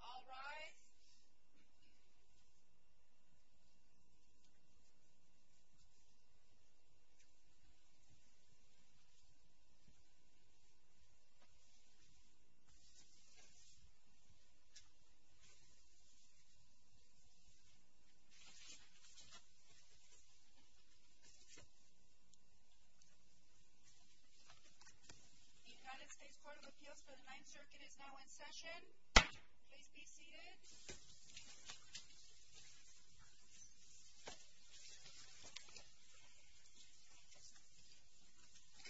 All rise. The United States Court of Appeals for the Ninth Circuit is now in session. Please be seated.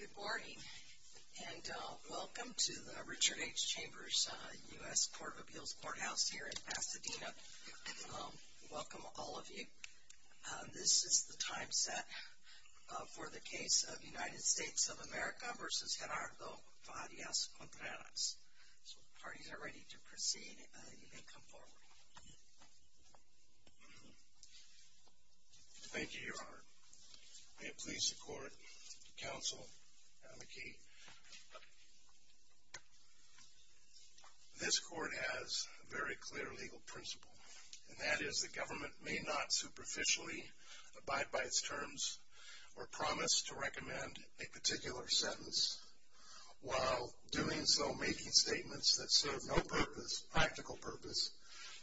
Good morning and welcome to the Richard H. Chambers U.S. Court of Appeals Courthouse here in Pasadena. Welcome all of you. This is the time set for the case of United States of America v. Gerardo Farias-Contreras. So if the parties are ready to proceed, you may come forward. Thank you, Your Honor. May it please the court, counsel, and the key. This court has a very clear legal principle, and that is the government may not superficially abide by its terms or promise to recommend a particular sentence while doing so making statements that serve no practical purpose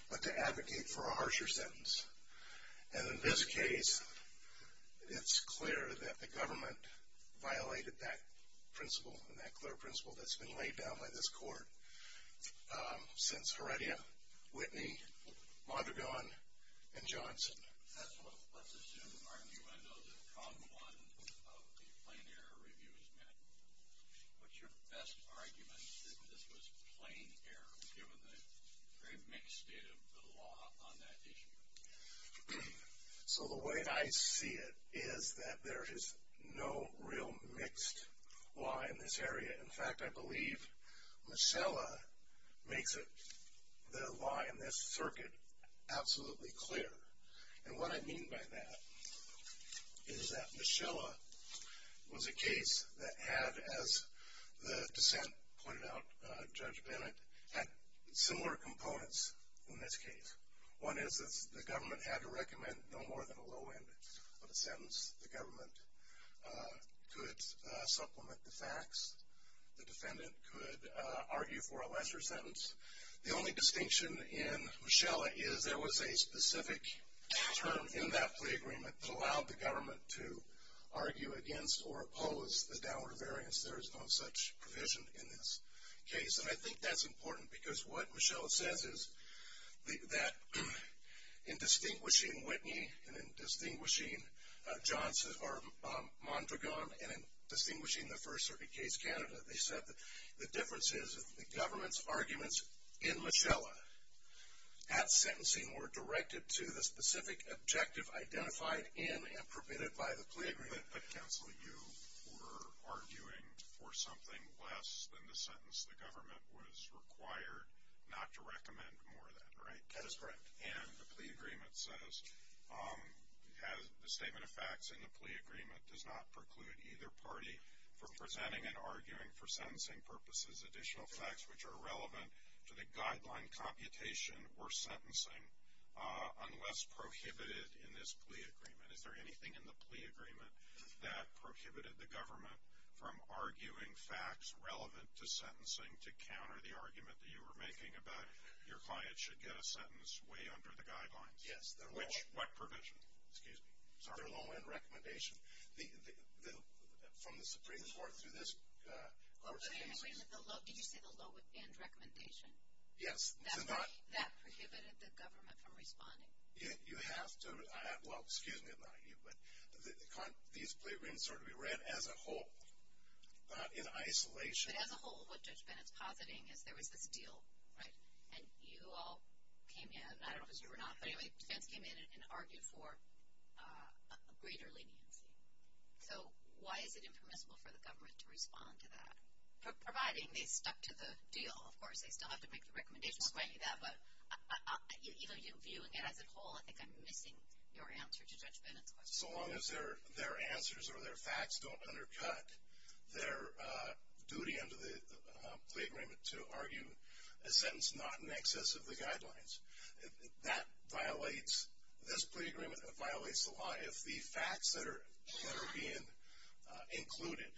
but to advocate for a harsher sentence. And in this case, it's clear that the government violated that principle and that clear principle that's been laid down by this court since Heredia, Whitney, Mondragon, and Johnson. That's what let's assume, Armando, that prong one of the plain error review is met. What's your best argument that this was plain error given the very mixed state of the law on that issue? So the way I see it is that there is no real mixed law in this area. In fact, I believe Mischella makes it, the law in this circuit, absolutely clear. And what I mean by that is that Mischella was a case that had, as the dissent pointed out, Judge Bennett, had similar components in this case. One is that the government had to recommend no more than a low end of a sentence. The government could supplement the facts. The defendant could argue for a lesser sentence. The only distinction in Mischella is there was a specific term in that plea agreement that allowed the government to argue against or oppose the downward variance. There is no such provision in this case. And I think that's important because what Mischella says is that in distinguishing Whitney and in distinguishing Mondragon and in distinguishing the first circuit case, Canada, they said that the differences of the government's arguments in Mischella at sentencing were directed to the specific objective identified in and permitted by the plea agreement. But, counsel, you were arguing for something less than the sentence. The government was required not to recommend more than, right? That is correct. And the plea agreement says the statement of facts in the plea agreement does not preclude either party from presenting and arguing for sentencing purposes additional facts which are relevant to the guideline computation or sentencing unless prohibited in this plea agreement. Is there anything in the plea agreement that prohibited the government from arguing facts relevant to sentencing to counter the argument that you were making about your client should get a sentence way under the guidelines? Yes. What provision? Excuse me. Sorry. The low-end recommendation. From the Supreme Court through this court case. Wait a minute. Did you say the low-end recommendation? Yes. That prohibited the government from responding? You have to. Well, excuse me. These plea agreements are to be read as a whole, not in isolation. But as a whole, what Judge Bennett's positing is there was this deal, right? And you all came in. I don't know if it was you or not. But anyway, defense came in and argued for a greater leniency. So why is it impermissible for the government to respond to that? Providing they stuck to the deal, of course. They still have to make the recommendation. I'll explain that. But even you viewing it as a whole, I think I'm missing your answer to Judge Bennett's question. So long as their answers or their facts don't undercut their duty under the plea agreement to argue a sentence not in excess of the guidelines, that violates this plea agreement. It violates the law. If the facts that are being included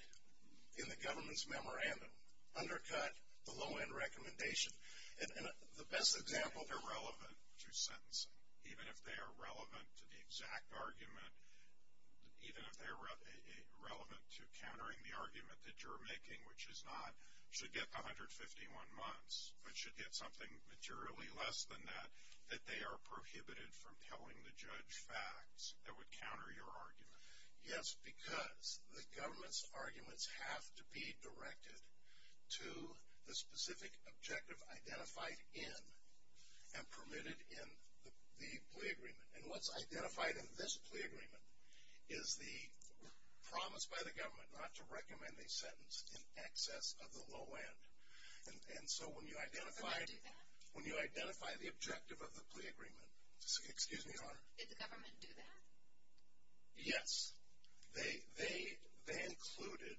in the government's memorandum undercut the low-end recommendation, the best example. They're relevant to sentencing. Even if they are relevant to the exact argument, even if they're relevant to countering the argument that you're making, which is not, should get 151 months, but should get something materially less than that, that they are prohibited from telling the judge facts that would counter your argument. Yes, because the government's arguments have to be directed to the specific objective identified in and permitted in the plea agreement. And what's identified in this plea agreement is the promise by the government not to recommend a sentence in excess of the low-end. And so when you identify the objective of the plea agreement. Excuse me, Your Honor. Did the government do that? Yes. They included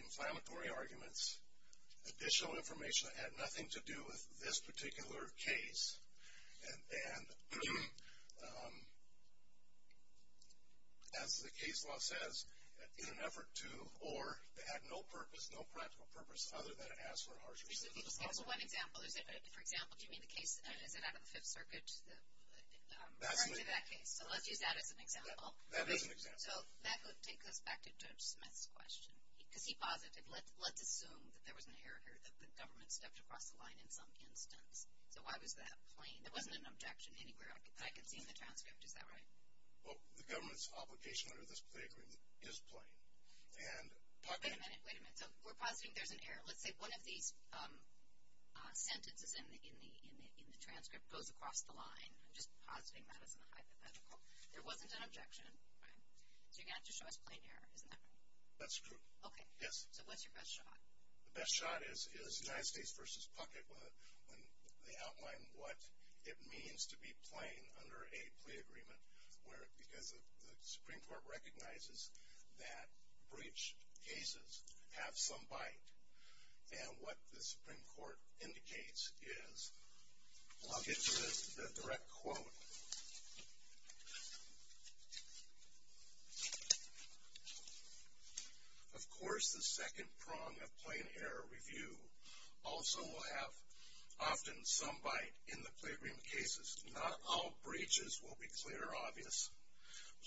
inflammatory arguments, additional information that had nothing to do with this particular case. And as the case law says, in an effort to, or to have no purpose, no practical purpose, other than to ask for a harsher sentence. Just give us one example. For example, do you mean the case, is it out of the Fifth Circuit, referring to that case? So let's use that as an example. That is an example. So that would take us back to Judge Smith's question. Because he posited, let's assume that there was an error here, that the government stepped across the line in some instance. So why was that plain? There wasn't an objection anywhere that I can see in the transcript. Is that right? Well, the government's obligation under this plea agreement is plain. Wait a minute, wait a minute. So we're positing there's an error. Let's say one of these sentences in the transcript goes across the line. I'm just positing that as a hypothetical. There wasn't an objection, right? So you're going to have to show us plain error, isn't that right? That's true. Okay. Yes. So what's your best shot? The best shot is United States v. Puckett when they outline what it means to be plain under a plea agreement. Because the Supreme Court recognizes that breach cases have some bite. And what the Supreme Court indicates is, I'll get to the direct quote. Of course the second prong of plain error review also will have often some bite in the plea agreement cases. Not all breaches will be clear or obvious.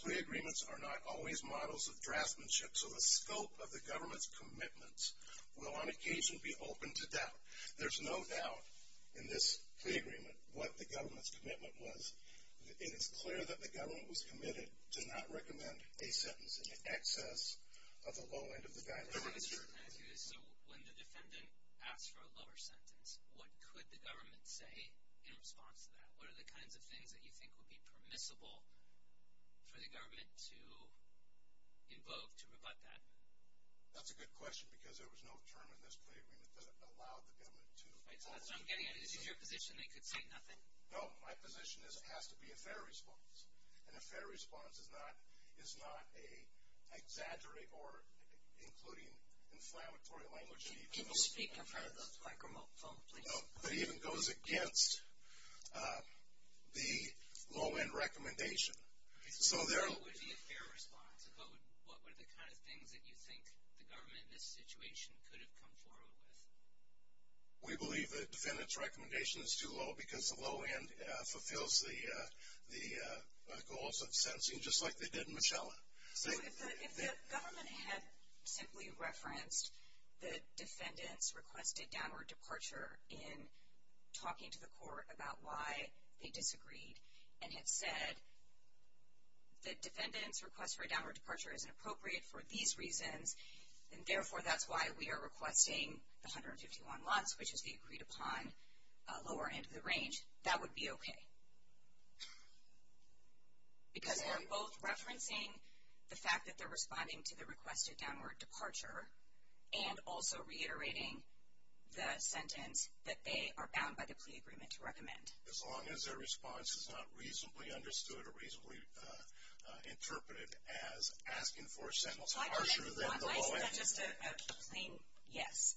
Plea agreements are not always models of draftsmanship, so the scope of the government's commitments will on occasion be open to doubt. There's no doubt in this plea agreement what the government's commitment was. It is clear that the government was committed to not recommend a sentence in excess of the low end of the value. So when the defendant asks for a lower sentence, what could the government say in response to that? What are the kinds of things that you think would be permissible for the government to invoke to rebut that? That's a good question because there was no term in this plea agreement that allowed the government to. I'm getting it. This is your position. They could say nothing. No. My position is it has to be a fair response. And a fair response is not an exaggerate or including inflammatory language. Can you speak in front of the microphone, please? It even goes against the low-end recommendation. So there are. What would be a fair response? What were the kind of things that you think the government in this situation could have come forward with? We believe the defendant's recommendation is too low because the low end fulfills the goals of sentencing just like they did in Michelle. So if the government had simply referenced the defendant's requested downward departure in talking to the court about why they disagreed and had said the defendant's request for a downward departure isn't appropriate for these reasons, and therefore that's why we are requesting the 151 months, which is the agreed upon lower end of the range, that would be okay. Because they're both referencing the fact that they're responding to the requested downward departure and also reiterating the sentence that they are bound by the plea agreement to recommend. As long as their response is not reasonably understood or reasonably interpreted as asking for a sentence harsher than the low end. Why is that just a plain yes?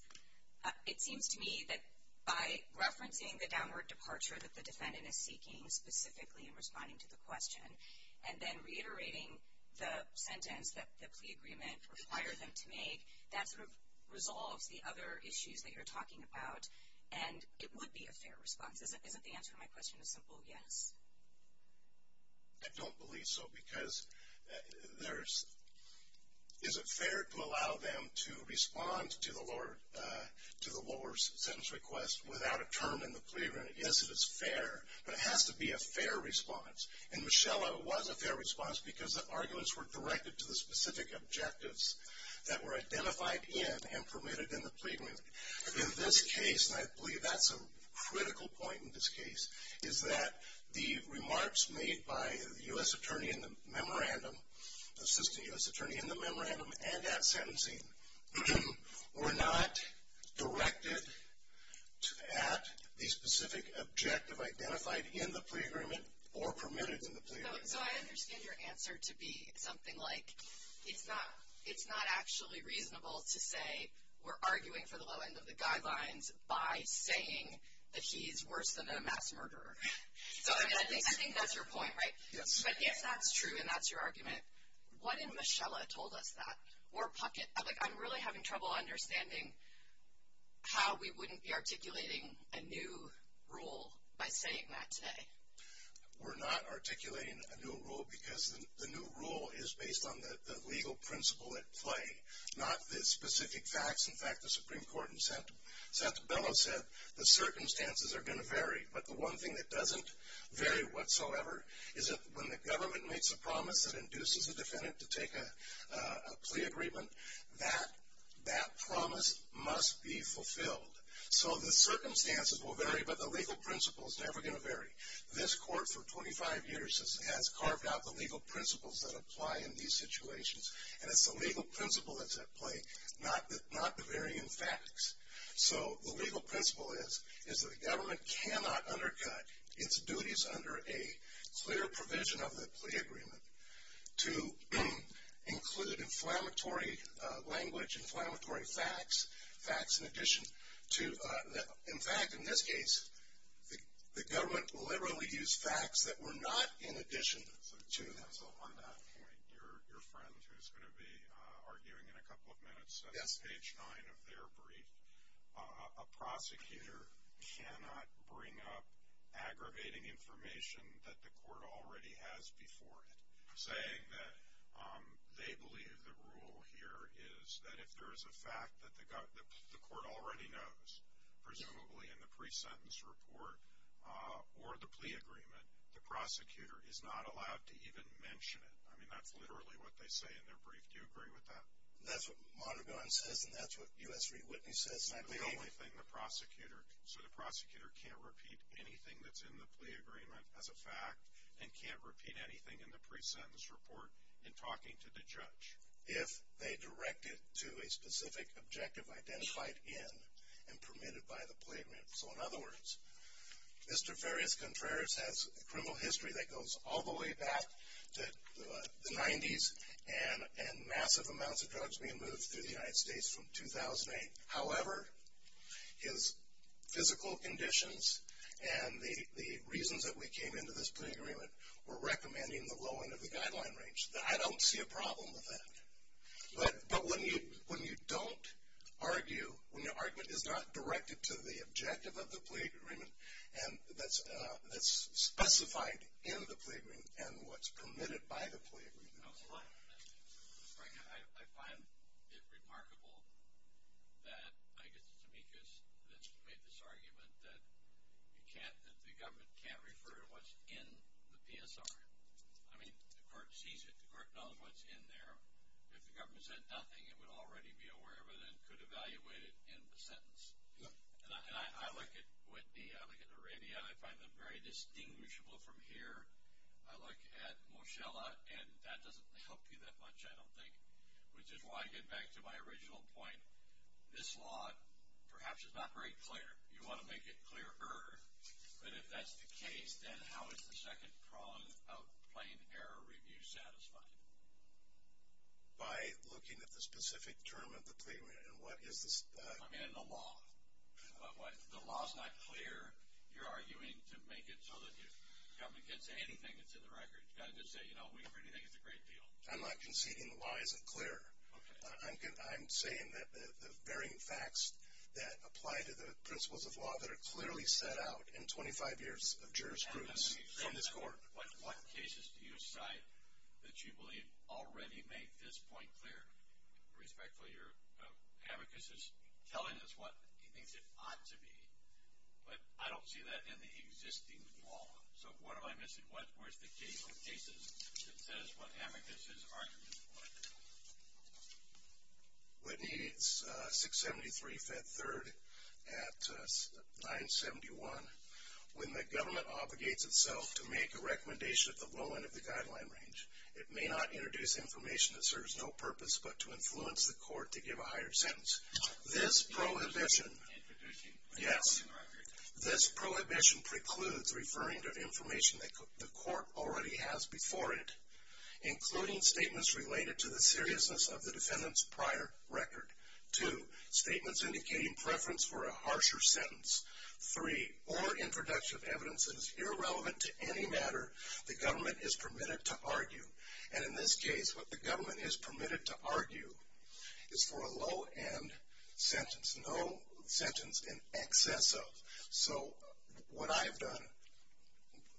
It seems to me that by referencing the downward departure that the defendant is seeking specifically in responding to the question and then reiterating the sentence that the plea agreement requires them to make, that sort of resolves the other issues that you're talking about and it would be a fair response. Isn't the answer to my question a simple yes? I don't believe so because is it fair to allow them to respond to the lower sentence request without a term in the plea agreement? Yes, it is fair, but it has to be a fair response. And Michelle, it was a fair response because the arguments were directed to the specific objectives that were identified in and permitted in the plea agreement. In this case, and I believe that's a critical point in this case, is that the remarks made by the U.S. Attorney in the memorandum, Assistant U.S. Attorney in the memorandum and at sentencing, were not directed at the specific objective identified in the plea agreement or permitted in the plea agreement. So, I understand your answer to be something like, it's not actually reasonable to say we're arguing for the low end of the guidelines by saying that he's worse than a mass murderer. So, I mean, I think that's your point, right? Yes. But if that's true and that's your argument, what if Michelle had told us that? Like, I'm really having trouble understanding how we wouldn't be articulating a new rule by saying that today. We're not articulating a new rule because the new rule is based on the legal principle at play, not the specific facts. In fact, the Supreme Court in Santa Bella said the circumstances are going to vary. But the one thing that doesn't vary whatsoever is that when the government makes a promise that induces a defendant to take a plea agreement, that promise must be fulfilled. So, the circumstances will vary, but the legal principle is never going to vary. This court for 25 years has carved out the legal principles that apply in these situations, and it's the legal principle that's at play, not the varying facts. So, the legal principle is that the government cannot undercut its duties under a clear provision of the plea agreement to include inflammatory language, inflammatory facts, facts in addition to. In fact, in this case, the government deliberately used facts that were not in addition to. So, on that point, your friend who's going to be arguing in a couple of minutes says, of their brief, a prosecutor cannot bring up aggravating information that the court already has before it, saying that they believe the rule here is that if there is a fact that the court already knows, presumably in the pre-sentence report or the plea agreement, the prosecutor is not allowed to even mention it. I mean, that's literally what they say in their brief. Do you agree with that? That's what Monaghan says, and that's what U.S. Reid-Whitney says. And I believe. The only thing the prosecutor. So, the prosecutor can't repeat anything that's in the plea agreement as a fact, and can't repeat anything in the pre-sentence report in talking to the judge. If they direct it to a specific objective identified in and permitted by the plea agreement. So, in other words, Mr. Farias Contreras has a criminal history that goes all the way back to the 90s, and massive amounts of drugs being moved through the United States from 2008. However, his physical conditions and the reasons that we came into this plea agreement were recommending the low end of the guideline range. I don't see a problem with that. But when you don't argue, when your argument is not directed to the objective of the plea agreement, and that's specified in the plea agreement, and what's permitted by the plea agreement. I find it remarkable that, I guess it's Amicus that's made this argument, that the government can't refer to what's in the PSR. I mean, the court sees it. The court knows what's in there. If the government said nothing, it would already be aware, but it could evaluate it in the sentence. And I look at Whitney, I look at Arabia, I find them very distinguishable from here. I look at Moshella, and that doesn't help you that much, I don't think. Which is why I get back to my original point. This law, perhaps, is not very clear. You want to make it clearer. But if that's the case, then how is the second prong of plain error review satisfied? By looking at the specific term of the plea agreement. I mean, in the law. If the law is not clear, you're arguing to make it so that the government can't say anything that's in the record. You've got to just say, you know, we pretty think it's a great deal. I'm not conceding the law isn't clear. I'm saying that the varying facts that apply to the principles of law that are clearly set out in 25 years of jurisprudence from this court. What cases do you cite that you believe already make this point clear? Respectfully, your amicus is telling us what he thinks it ought to be. But I don't see that in the existing law. So what am I missing? Where's the case of cases that says what amicus is arguing for? Whitney, it's 673-5-3 at 971. When the government obligates itself to make a recommendation at the low end of the guideline range, it may not introduce information that serves no purpose but to influence the court to give a higher sentence. This prohibition, yes, this prohibition precludes referring to information that the court already has before it, including statements related to the seriousness of the defendant's prior record. Two, statements indicating preference for a harsher sentence. Three, or introduction of evidence that is irrelevant to any matter the government is permitted to argue. And in this case, what the government is permitted to argue is for a low-end sentence, no sentence in excess of. So what I've done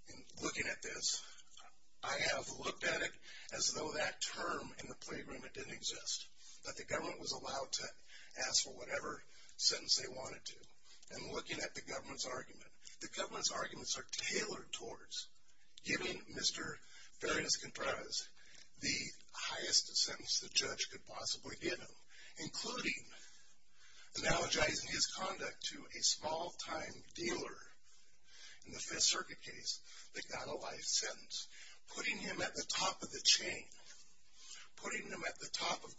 in looking at this, I have looked at it as though that term in the plea agreement didn't exist, that the government was allowed to ask for whatever sentence they wanted to. And looking at the government's argument, the government's arguments are tailored towards giving Mr. Ferencz Contreras the highest sentence the judge could possibly give him, including analogizing his conduct to a small-time dealer in the Fifth Circuit case that got a life sentence, putting him at the top of the chain, putting him at the top of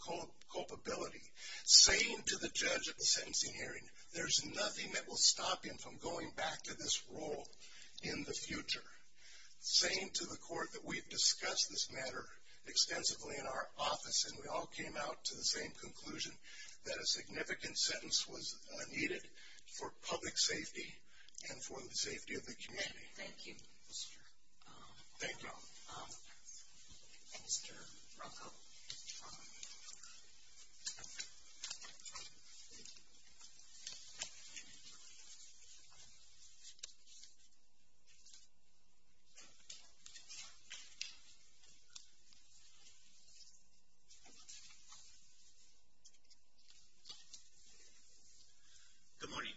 culpability, saying to the judge at the sentencing hearing, there's nothing that will stop him from going back to this role in the future, saying to the court that we've discussed this matter extensively in our office, and we all came out to the same conclusion, that a significant sentence was needed for public safety and for the safety of the community. Thank you. Thank you. Mr. Bronco. Good morning.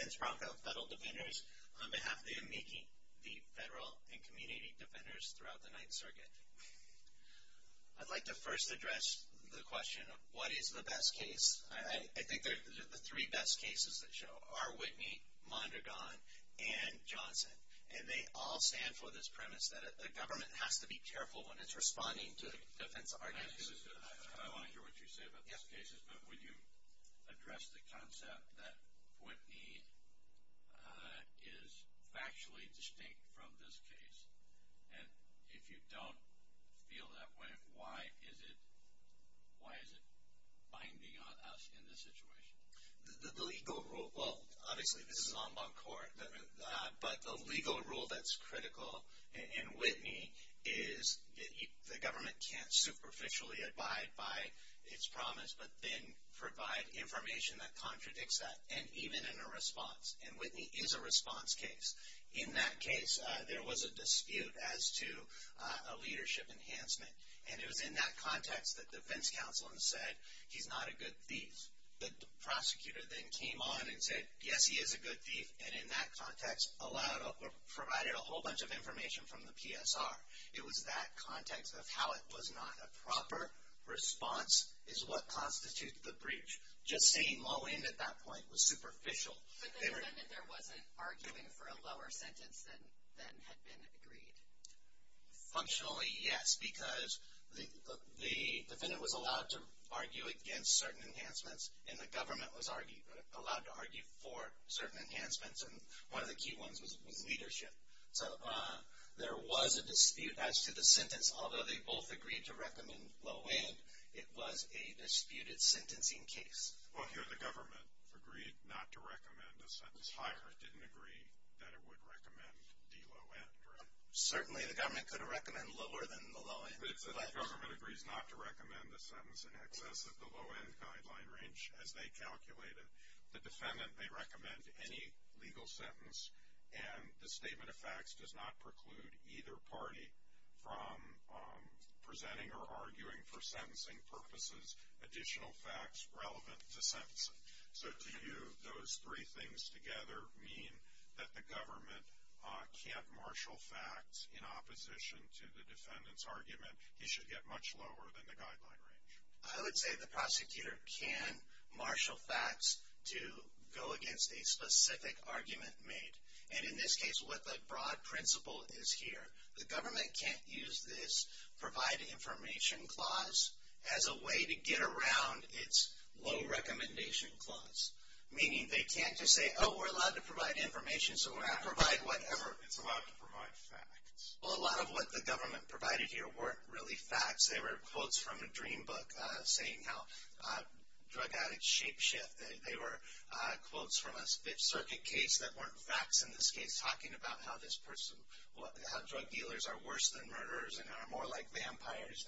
Vince Bronco, Federal Defenders, on behalf of the AMICI, the Federal and Community Defenders throughout the Ninth Circuit. I'd like to first address the question of what is the best case. I think the three best cases that show are Whitney, Mondragon, and Johnson, and they all stand for this premise that the government has to be careful when it's responding to defense arguments. I want to hear what you say about these cases, but would you address the concept that Whitney is factually distinct from this case? And if you don't feel that way, why is it binding on us in this situation? The legal rule, well, obviously this is an en banc court, but the legal rule that's critical in Whitney is the government can't superficially abide by its promise, but then provide information that contradicts that, and even in a response. And Whitney is a response case. In that case, there was a dispute as to a leadership enhancement, and it was in that context that defense counsel had said, he's not a good thief. The prosecutor then came on and said, yes, he is a good thief, and in that context provided a whole bunch of information from the PSR. It was that context of how it was not a proper response is what constitutes the breach. Just saying low end at that point was superficial. But the defendant there wasn't arguing for a lower sentence than had been agreed? Functionally, yes, because the defendant was allowed to argue against certain enhancements, and the government was allowed to argue for certain enhancements, and one of the key ones was leadership. So there was a dispute as to the sentence. Although they both agreed to recommend low end, it was a disputed sentencing case. Well, here the government agreed not to recommend a sentence higher. It didn't agree that it would recommend the low end, right? Certainly, the government could have recommended lower than the low end. But if the government agrees not to recommend a sentence in excess of the low end guideline range, as they calculated, the defendant may recommend any legal sentence, and the statement of facts does not preclude either party from presenting or arguing for sentencing purposes additional facts relevant to sentencing. So do those three things together mean that the government can't marshal facts in opposition to the defendant's argument he should get much lower than the guideline range? I would say the prosecutor can marshal facts to go against a specific argument made. And in this case, what the broad principle is here, the government can't use this provide information clause as a way to get around its low recommendation clause. Meaning they can't just say, oh, we're allowed to provide information, so we're going to provide whatever. It's allowed to provide facts. Well, a lot of what the government provided here weren't really facts. They were quotes from a dream book saying how drug addicts shape shift. They were quotes from a Fifth Circuit case that weren't facts in this case, talking about how drug dealers are worse than murderers and are more like vampires,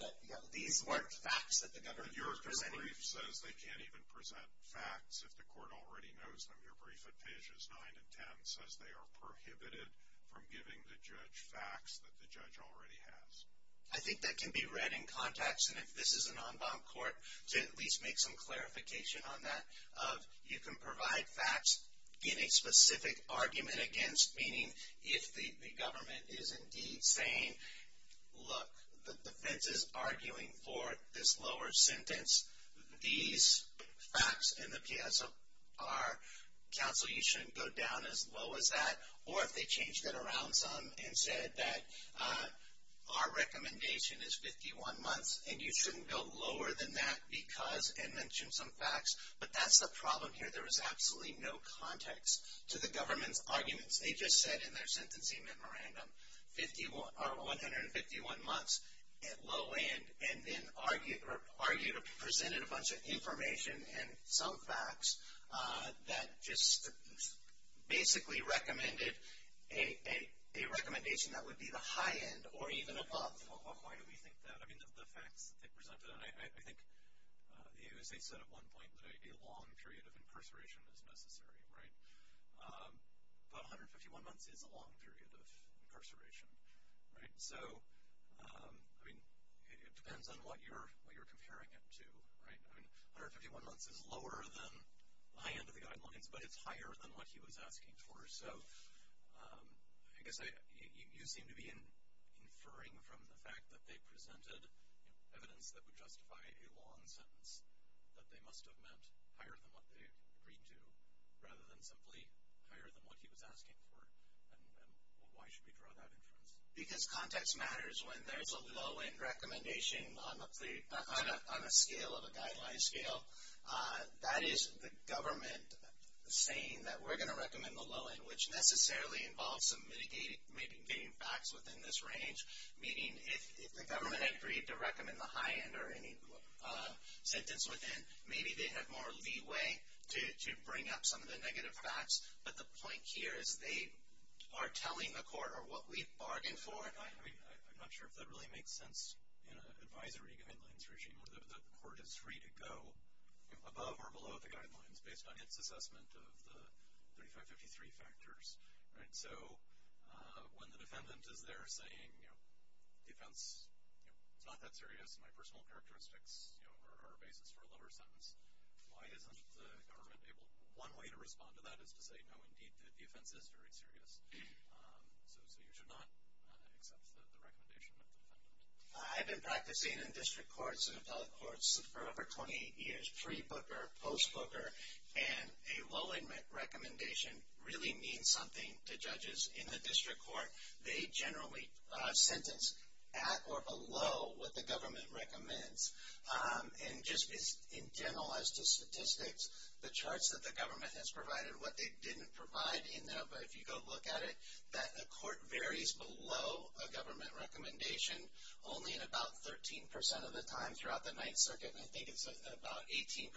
but these weren't facts that the government was presenting. Your brief says they can't even present facts if the court already knows them. Your brief at pages 9 and 10 says they are prohibited from giving the judge facts that the judge already has. I think that can be read in context, and if this is an en banc court, to at least make some clarification on that, of you can provide facts in a specific argument against, meaning if the government is indeed saying, look, the defense is arguing for this lower sentence, these facts in the PSR counsel, you shouldn't go down as low as that, or if they changed it around some and said that our recommendation is 51 months, and you shouldn't go lower than that because, and mention some facts, but that's the problem here. There is absolutely no context to the government's arguments. They just said in their sentencing memorandum 151 months at low end and then argued or presented a bunch of information and some facts that just basically recommended a recommendation that would be the high end or even above. Why do we think that? I mean, the facts that they presented, and I think the USA said at one point that a long period of incarceration is necessary, right? But 151 months is a long period of incarceration, right? So, I mean, it depends on what you're comparing it to, right? I mean, 151 months is lower than high end of the guidelines, but it's higher than what he was asking for. So I guess you seem to be inferring from the fact that they presented evidence that would justify a long sentence that they must have meant higher than what they agreed to rather than simply higher than what he was asking for. And why should we draw that inference? Because context matters when there's a low end recommendation on a scale of a guideline scale. That is the government saying that we're going to recommend the low end, which necessarily involves some mitigating, maybe getting facts within this range, meaning if the government agreed to recommend the high end or any sentence within, maybe they have more leeway to bring up some of the negative facts. But the point here is they are telling the court what we bargained for. I'm not sure if that really makes sense in an advisory guidelines regime where the court is free to go above or below the guidelines based on its assessment of the 3553 factors, right? So when the defendant is there saying defense is not that serious, my personal characteristics are a basis for a lower sentence, why isn't the government able, one way to respond to that is to say, no, indeed, the offense is very serious. So you should not accept the recommendation of the defendant. I've been practicing in district courts and appellate courts for over 28 years, pre-booker, post-booker, and a low end recommendation really means something to judges in the district court. They generally sentence at or below what the government recommends. And just in general as to statistics, the charts that the government has provided, what they didn't provide in there, but if you go look at it, that the court varies below a government recommendation only in about 13% of the time throughout the Ninth Circuit, and I think it's about 18%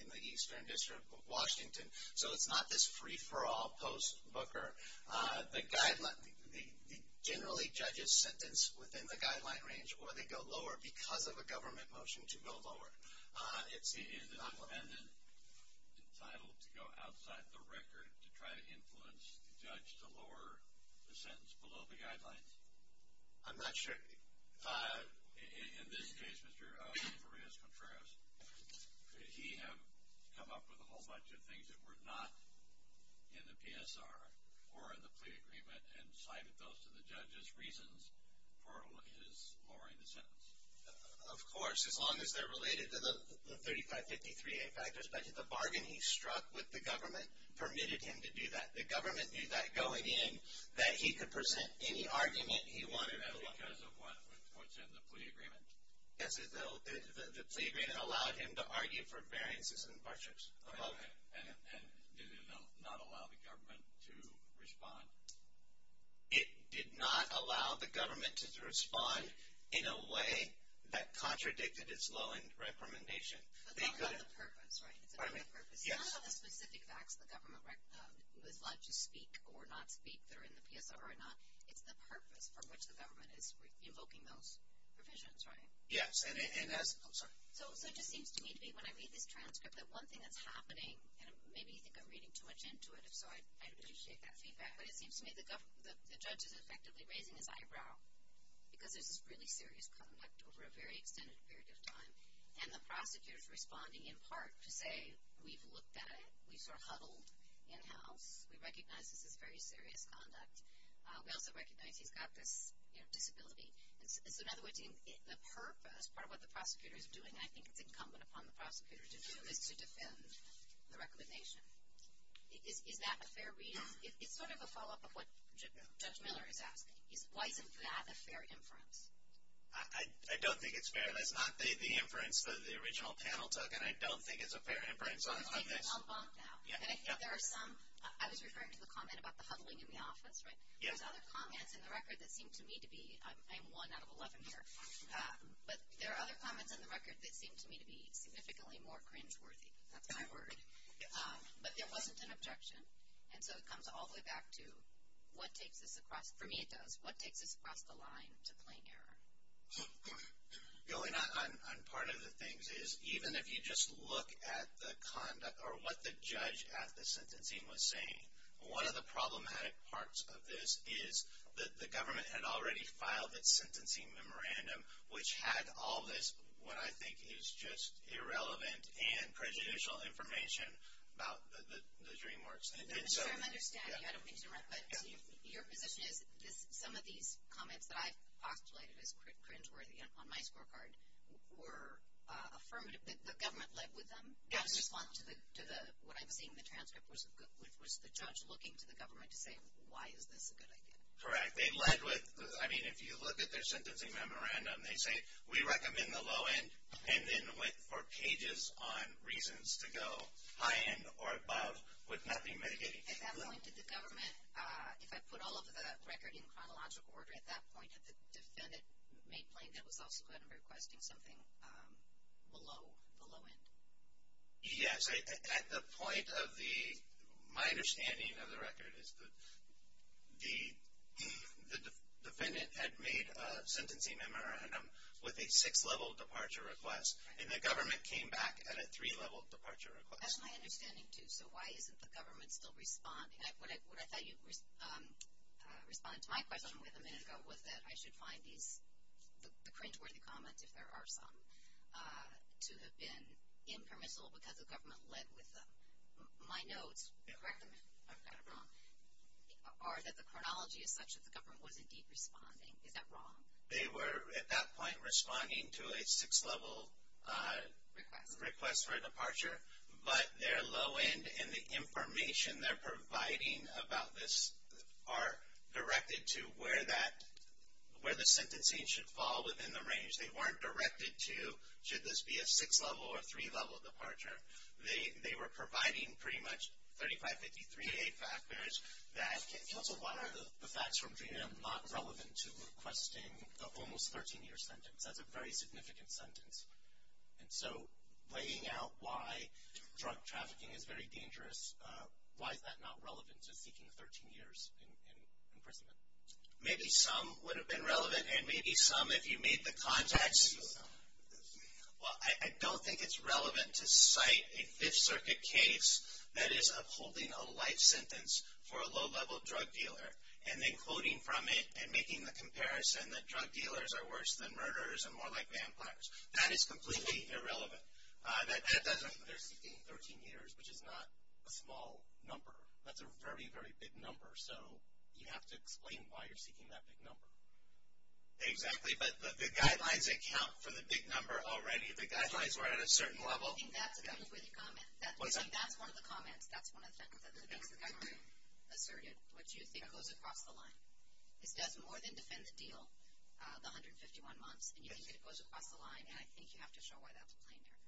in the Eastern District of Washington. So it's not this free for all, post-booker. The guideline, generally judges sentence within the guideline range or they go lower because of a government motion to go lower. It's not what we're looking for. Is the defendant entitled to go outside the record to try to influence the judge to lower the sentence below the guidelines? I'm not sure. In this case, Mr. Farias-Contreras, could he have come up with a whole bunch of things that were not in the PSR or in the plea agreement and cited those to the judge as reasons for his lowering the sentence? Of course, as long as they're related to the 3553A factors budget. The bargain he struck with the government permitted him to do that. The government knew that going in that he could present any argument he wanted. Is that because of what's in the plea agreement? Yes, the plea agreement allowed him to argue for variances in budgets. Okay. And did it not allow the government to respond? It did not allow the government to respond in a way that contradicted its low-end recommendation. But that's not the purpose, right? It's not the purpose. It's not about the specific facts the government was allowed to speak or not speak that are in the PSR or not. It's the purpose for which the government is invoking those provisions, right? Yes. I'm sorry. So it just seems to me to be, when I read this transcript, that one thing that's happening, and maybe you think I'm reading too much into it, so I'd appreciate that feedback, but it seems to me the judge is effectively raising his eyebrow because there's this really serious conduct over a very extended period of time. And the prosecutor is responding in part to say, we've looked at it. We've sort of huddled in-house. We recognize this is very serious conduct. We also recognize he's got this disability. So in other words, the purpose, part of what the prosecutor is doing, and I think it's incumbent upon the prosecutor to do, is to defend the recommendation. Is that a fair read? It's sort of a follow-up of what Judge Miller is asking. Why isn't that a fair inference? I don't think it's fair. That's not the inference that the original panel took, and I don't think it's a fair inference on this. I think it's outlawed now. Yeah. And I think there are some, I was referring to the comment about the huddling in the office, right? There's other comments in the record that seem to me to be, I am one out of 11 here, but there are other comments in the record that seem to me to be significantly more cringeworthy. That's my word. But there wasn't an objection, and so it comes all the way back to what takes us across, for me it does, what takes us across the line to plain error? Going on part of the things is, even if you just look at the conduct or what the judge at the sentencing was saying, one of the problematic parts of this is that the government had already filed its sentencing memorandum, which had all this what I think is just irrelevant and prejudicial information about the DreamWorks. I understand you. I don't mean to interrupt, but your position is some of these comments that I've postulated as cringeworthy on my scorecard were affirmative, that the government led with them? Yes. In response to what I'm seeing in the transcript, was the judge looking to the government to say why is this a good idea? Correct. They led with, I mean, if you look at their sentencing memorandum, they say we recommend the low end and then went for pages on reasons to go high end or above would not be mitigating. At that point, did the government, if I put all of the record in chronological order at that point, did the defendant make plain that was also kind of requesting something below the low end? Yes. At the point of the, my understanding of the record is the defendant had made a sentencing memorandum with a six-level departure request, and the government came back at a three-level departure request. That's my understanding, too, so why isn't the government still responding? What I thought you responded to my question with a minute ago was that I should find these, the cringeworthy comments, if there are some, to have been impermissible because the government led with them. My notes, correct me if I've got it wrong, are that the chronology is such that the government was indeed responding. Is that wrong? They were, at that point, responding to a six-level request for a departure, but their low end and the information they're providing about this are directed to where that, where the sentencing should fall within the range. They weren't directed to should this be a six-level or three-level departure. They were providing pretty much 3553A factors that. Counsel, why are the facts from DREAMM not relevant to requesting the almost 13-year sentence? That's a very significant sentence. And so, laying out why drug trafficking is very dangerous, why is that not relevant to seeking 13 years in prison? Maybe some would have been relevant, and maybe some, if you made the context, well, I don't think it's relevant to cite a Fifth Circuit case that is upholding a life sentence for a low-level drug dealer and then quoting from it and making the comparison that drug dealers are worse than murderers and more like vampires. That is completely irrelevant. That doesn't mean they're seeking 13 years, which is not a small number. That's a very, very big number, so you have to explain why you're seeking that big number. Exactly. But the guidelines account for the big number already. The guidelines were at a certain level. I think that's a good way to comment. That's one of the comments. That's one of the things that the guidelines asserted, which you think goes across the line. This does more than defend the deal, the 151 months, and you think that it goes across the line, and I think you have to show why that's plain error.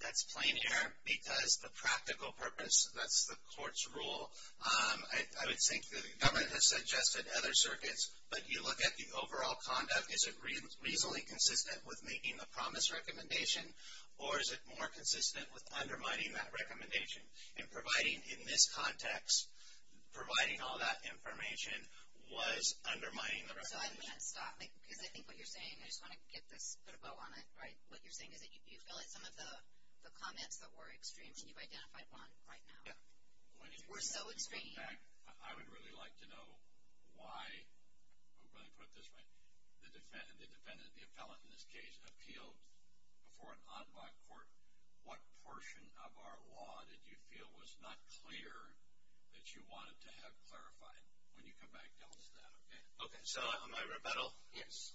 That's plain error because the practical purpose, that's the court's rule. I would think that the government has suggested other circuits, but you look at the overall conduct. Is it reasonably consistent with making the promise recommendation, or is it more consistent with undermining that recommendation and providing, in this context, providing all that information was undermining the recommendation? I think what you're saying, I just want to get this, put a bow on it, right? What you're saying is that you feel like some of the comments that were extreme, and you've identified one right now, were so extreme. In fact, I would really like to know why the defendant, the appellant in this case, appealed before an en bas court. What portion of our law did you feel was not clear that you wanted to have clarified? When you come back, tell us that, okay? Okay, so on my rebuttal, yes.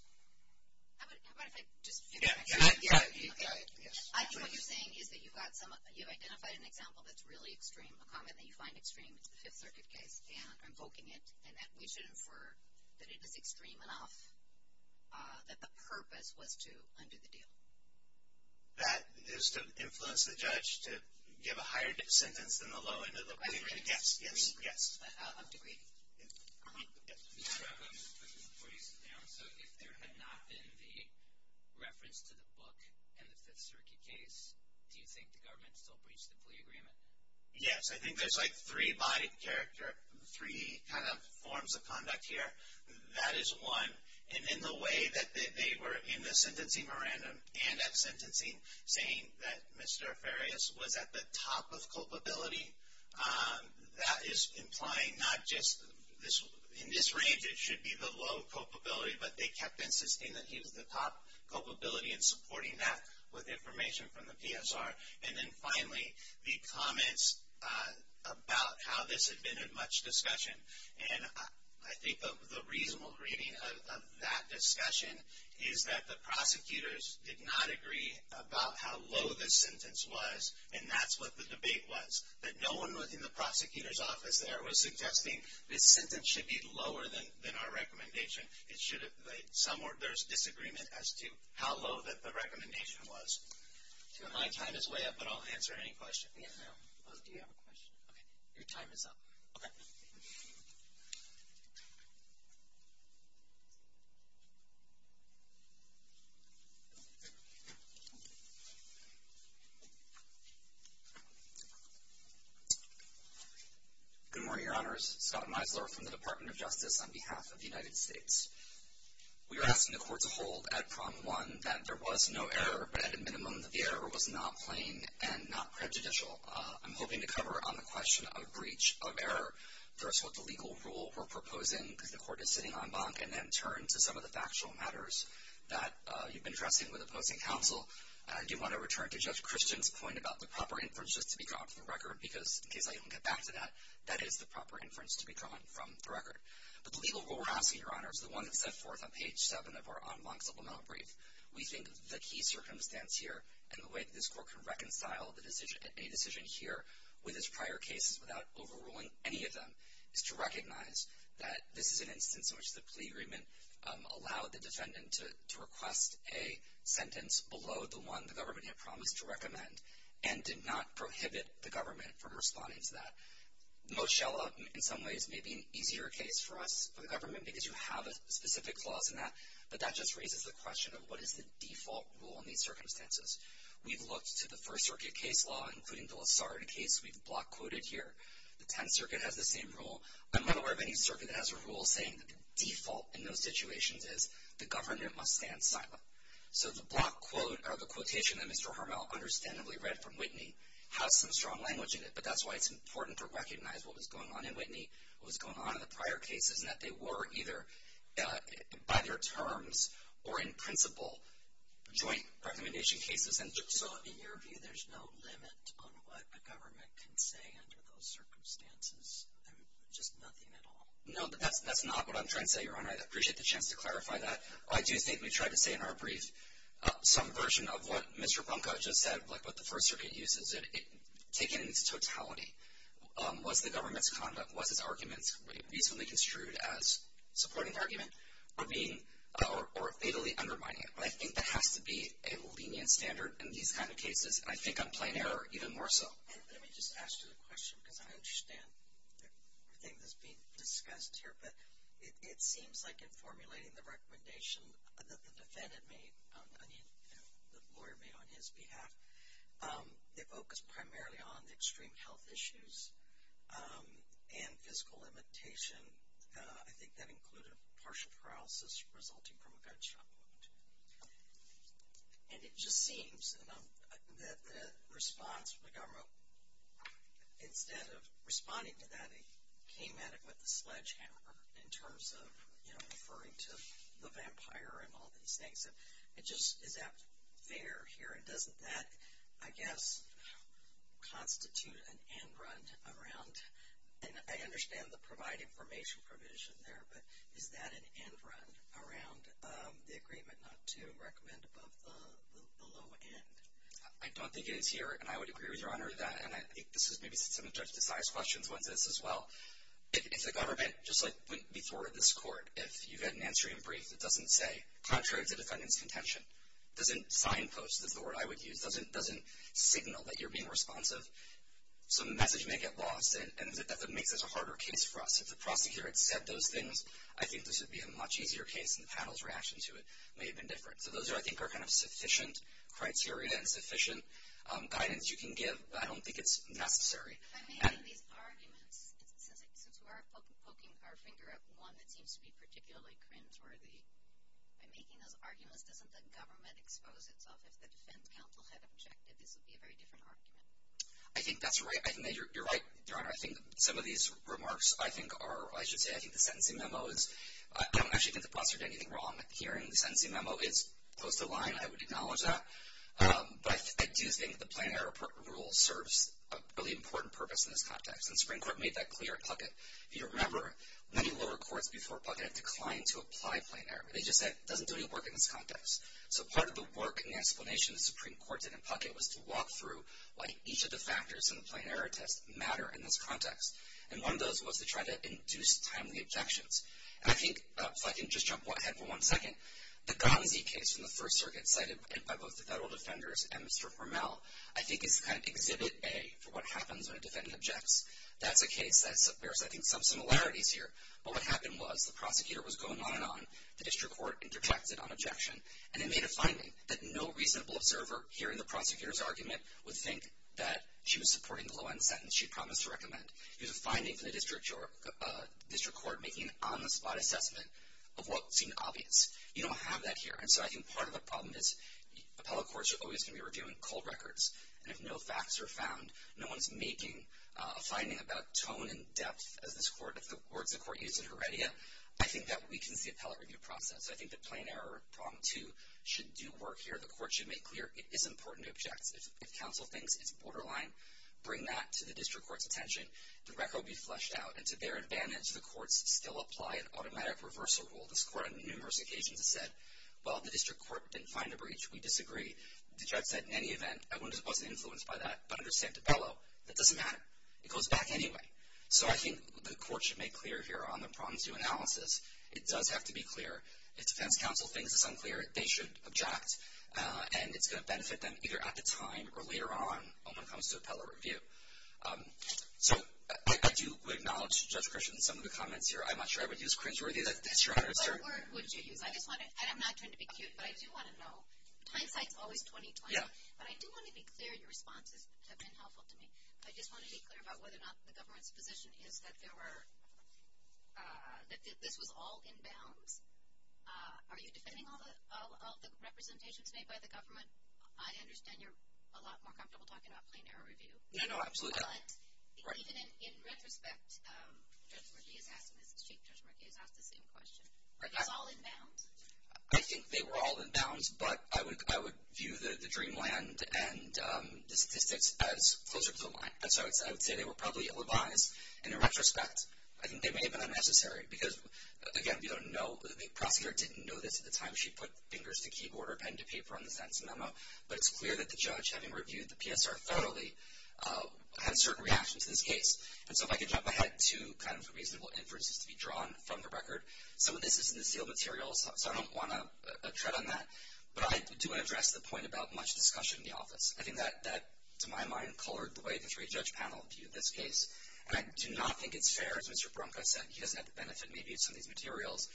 How about if I just fix that? Yeah, you've got it, yes. I think what you're saying is that you've identified an example that's really extreme, a comment that you find extreme, it's the Fifth Circuit case, and invoking it, and that we should infer that it is extreme enough that the purpose was to undo the deal. That is to influence the judge to give a higher sentence than the low end of the equation? Yes, yes, yes. I'm agreeing. Mr. Robbins, before you sit down, so if there had not been the reference to the book in the Fifth Circuit case, do you think the government still breached the plea agreement? Yes. I think there's like three by character, three kind of forms of conduct here. That is one. And in the way that they were in the sentencing memorandum and at sentencing, saying that Mr. Farias was at the top of culpability, that is implying not just this. In this range, it should be the low culpability, but they kept insisting that he was the top culpability and supporting that with information from the PSR. And then finally, the comments about how this had been a much discussion. And I think the reasonable reading of that discussion is that the prosecutors did not agree about how low this sentence was, and that's what the debate was, that no one within the prosecutor's office there was suggesting this sentence should be lower than our recommendation. There's disagreement as to how low that the recommendation was. My time is way up, but I'll answer any questions. Do you have a question? Okay. Your time is up. Okay. Good morning, Your Honors. Scott Meisler from the Department of Justice on behalf of the United States. We are asking the Court to hold at Prom 1 that there was no error, but at a minimum that the error was not plain and not prejudicial. I'm hoping to cover on the question of breach of error first what the legal rule we're proposing, because the Court is sitting en banc, and then turn to some of the factual matters that you've been addressing with opposing counsel. And I do want to return to Judge Christian's point about the proper inference just to be drawn from the record, because in case I don't get back to that, that is the proper inference to be drawn from the record. But the legal rule we're asking, Your Honors, the one that's set forth on page 7 of our en banc supplemental brief, we think the key circumstance here and the way that this Court can reconcile a decision here with its prior cases without overruling any of them, is to recognize that this is an instance in which the plea agreement allowed the defendant to request a sentence below the one the government had promised to recommend and did not prohibit the government from responding to that. Moshella, in some ways, may be an easier case for us, for the government, because you have a specific clause in that, but that just raises the question of what is the default rule in these circumstances. We've looked to the First Circuit case law, including the Lessard case we've block quoted here. The Tenth Circuit has the same rule. I'm not aware of any circuit that has a rule saying that the default in those situations is the government must stand silent. So the block quote or the quotation that Mr. Harmel understandably read from Whitney has some strong language in it, but that's why it's important to recognize what was going on in Whitney, what was going on in the prior cases, and that they were either by their terms or in principle joint recommendation cases. So in your view, there's no limit on what a government can say under those circumstances, just nothing at all? No, but that's not what I'm trying to say, Your Honor. I'd appreciate the chance to clarify that. I do think we tried to say in our brief some version of what Mr. Ponca just said, like what the First Circuit uses. Taking into totality, was the government's conduct, was its arguments reasonably construed as supporting the argument or being or fatally undermining it? But I think that has to be a lenient standard in these kind of cases, and I think on plain error even more so. Let me just ask you the question because I understand everything that's being discussed here, but it seems like in formulating the recommendation that the defendant made, I mean the lawyer made on his behalf, they focused primarily on the extreme health issues and physical limitation. I think that included partial paralysis resulting from a gunshot wound. And it just seems that the response from the government, instead of responding to that, they came at it with a sledgehammer in terms of referring to the vampire and all these things. It just is not fair here, and doesn't that, I guess, constitute an end run around, and I understand the provide information provision there, but is that an end run around the agreement not to recommend above the low end? I don't think it is here, and I would agree with Your Honor that, and I think this is maybe some of Judge Desai's questions on this as well. If the government, just like before this court, if you had an answer in brief that doesn't say, contrary to defendant's contention, doesn't signpost, is the word I would use, doesn't signal that you're being responsive, some message may get lost, and that makes this a harder case for us. If the prosecutor had said those things, I think this would be a much easier case, and the panel's reaction to it may have been different. So those, I think, are kind of sufficient criteria and sufficient guidance you can give, but I don't think it's necessary. By making these arguments, since we are poking our finger at one that seems to be particularly cringeworthy, by making those arguments, doesn't the government expose itself? If the defense counsel had objected, this would be a very different argument. I think that's right. I think you're right, Your Honor. I think some of these remarks, I think, are, I should say, I think the sentencing memo is, I don't actually think the prosecutor did anything wrong here, and the sentencing memo is close to the line. I would acknowledge that. But I do think the plain error rule serves a really important purpose in this context, and the Supreme Court made that clear at Puckett. If you remember, many lower courts before Puckett declined to apply plain error. They just said it doesn't do any work in this context. So part of the work and the explanation the Supreme Court did in Puckett was to walk through why each of the factors in the plain error test matter in this context, and one of those was to try to induce timely objections. And I think, if I can just jump ahead for one second, the Gansey case from the First Circuit cited by both the federal defenders and Mr. Hormel, I think is kind of exhibit A for what happens when a defendant objects. That's a case that bears, I think, some similarities here. But what happened was the prosecutor was going on and on. The district court interjected on objection, and it made a finding that no reasonable observer hearing the prosecutor's argument would think that she was supporting the low-end sentence she promised to recommend. It was a finding from the district court making an on-the-spot assessment of what seemed obvious. You don't have that here. And so I think part of the problem is appellate courts are always going to be reviewing cold records, and if no facts are found, no one's making a finding about tone and depth as this court, as the words the court used in Heredia. I think that weakens the appellate review process. I think the plain error problem, too, should do work here. The court should make clear it is important to object. If counsel thinks it's borderline, bring that to the district court's attention. The record will be fleshed out, and to their advantage, the courts still apply an automatic reversal rule. This court on numerous occasions has said, well, the district court didn't find a breach. We disagree. The judge said, in any event, I wasn't influenced by that, but under Santabello, that doesn't matter. It goes back anyway. So I think the court should make clear here on the problem-to-analysis, it does have to be clear. If defense counsel thinks it's unclear, they should object, and it's going to benefit them either at the time or later on when it comes to appellate review. So I do acknowledge, Judge Christian, some of the comments here. I'm not sure I would use cringe-worthy. That's your honor, sir. What word would you use? I'm not trying to be cute, but I do want to know. Hindsight's always 20-20. But I do want to be clear. Your responses have been helpful to me. I just want to be clear about whether or not the government's position is that this was all in bounds. Are you defending all the representations made by the government? I understand you're a lot more comfortable talking about plain error review. No, no, absolutely. But even in retrospect, Judge Markey has asked the same question. Are these all in bounds? I think they were all in bounds, but I would view the Dreamland and the statistics as closer to the line. So I would say they were probably ill-advised, and in retrospect, I think they may have been unnecessary. Because, again, you don't know. The prosecutor didn't know this at the time she put fingers to keyboard or pen to paper on the sentence memo. But it's clear that the judge, having reviewed the PSR thoroughly, had a certain reaction to this case. And so, if I could jump ahead, two kind of reasonable inferences to be drawn from the record. Some of this is in the sealed materials, so I don't want to tread on that. But I do want to address the point about much discussion in the office. I think that, to my mind, colored the way the three-judge panel viewed this case. And I do not think it's fair, as Mr. Branca said, he doesn't have the benefit, maybe, of some of these materials.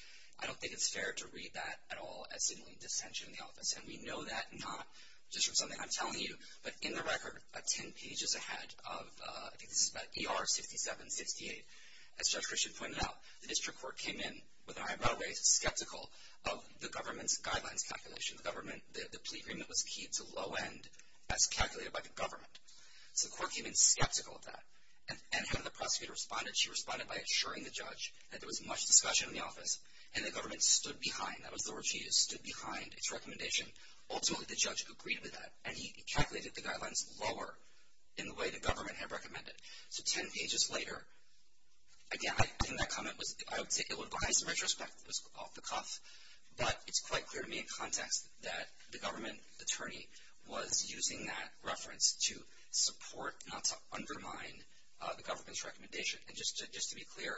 I don't think it's fair to read that at all as simply dissension in the office. And we know that not just from something I'm telling you. But in the record, 10 pages ahead of, I think this is about ER 6768, as Judge Christian pointed out, the district court came in with an eyebrow raised, skeptical of the government's guidelines calculation. The plea agreement was key to low-end as calculated by the government. So the court came in skeptical of that. And how did the prosecutor respond? She responded by assuring the judge that there was much discussion in the office, and the government stood behind. That was the word she used, stood behind its recommendation. Ultimately, the judge agreed with that. And he calculated the guidelines lower in the way the government had recommended. So 10 pages later, again, I think that comment was, I would say, it was biased in retrospect. It was off the cuff. But it's quite clear to me in context that the government attorney was using that reference to support, not to undermine, the government's recommendation. And just to be clear,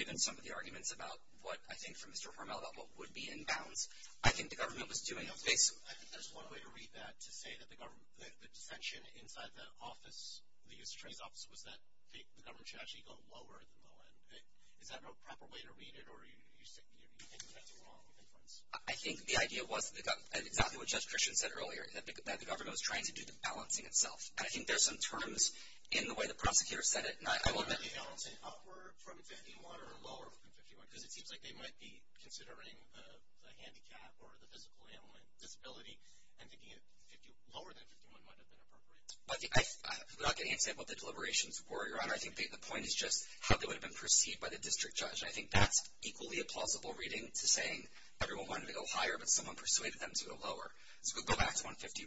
given some of the arguments about what I think from Mr. Hormel about what would be in bounds, I think the government was doing a basic. I think there's one way to read that to say that the dissension inside the office, the U.S. Attorney's office, was that the government should actually go lower than low-end. Is that a proper way to read it, or do you think that's a wrong inference? I think the idea was exactly what Judge Christian said earlier, that the government was trying to do the balancing itself. And I think there's some terms in the way the prosecutor said it. Would they be balancing upward from 51 or lower from 51? Because it seems like they might be considering the handicap or the physical disability and thinking lower than 51 might have been appropriate. Without getting into what the deliberations were, Your Honor, I think the point is just how they would have been perceived by the district judge. And I think that's equally a plausible reading to saying everyone wanted to go higher, but someone persuaded them to go lower. So we'll go back to 151.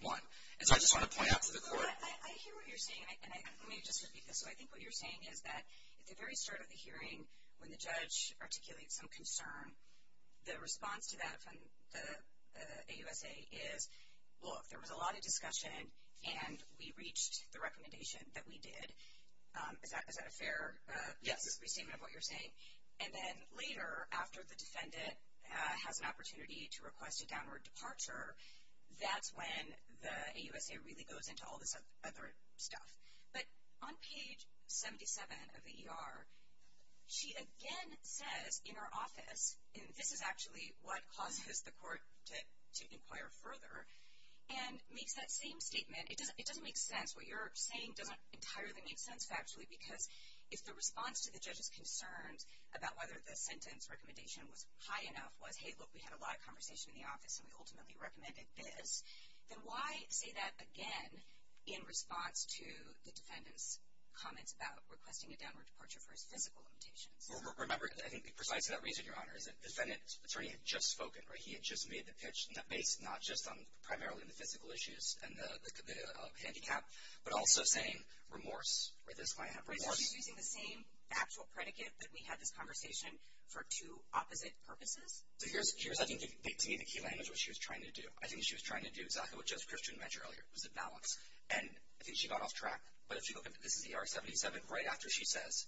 And so I just want to point out to the court. I hear what you're saying, and let me just repeat this. So I think what you're saying is that at the very start of the hearing when the judge articulates some concern, the response to that from the AUSA is, look, there was a lot of discussion, and we reached the recommendation that we did. Is that a fair statement of what you're saying? Yes. And then later, after the defendant has an opportunity to request a downward departure, that's when the AUSA really goes into all this other stuff. But on page 77 of the ER, she again says in her office, and this is actually what causes the court to inquire further, and makes that same statement. It doesn't make sense. What you're saying doesn't entirely make sense factually because if the response to the judge's concerns about whether the sentence recommendation was high enough was, hey, look, we had a lot of conversation in the office, and we ultimately recommended this, then why say that again in response to the defendant's comments about requesting a downward departure for his physical limitations? Remember, I think precisely that reason, Your Honor, is that the defendant's attorney had just spoken, right? He had just made the pitch based not just primarily on the physical issues and the handicap, but also saying remorse, or this might have remorse. So he's using the same factual predicate that we had this conversation for two opposite purposes? So here's, I think, to me, the key language of what she was trying to do. I think what she was trying to do, exactly what Judge Christian mentioned earlier, was the balance. And I think she got off track, but if you look at this ER 77, right after she says,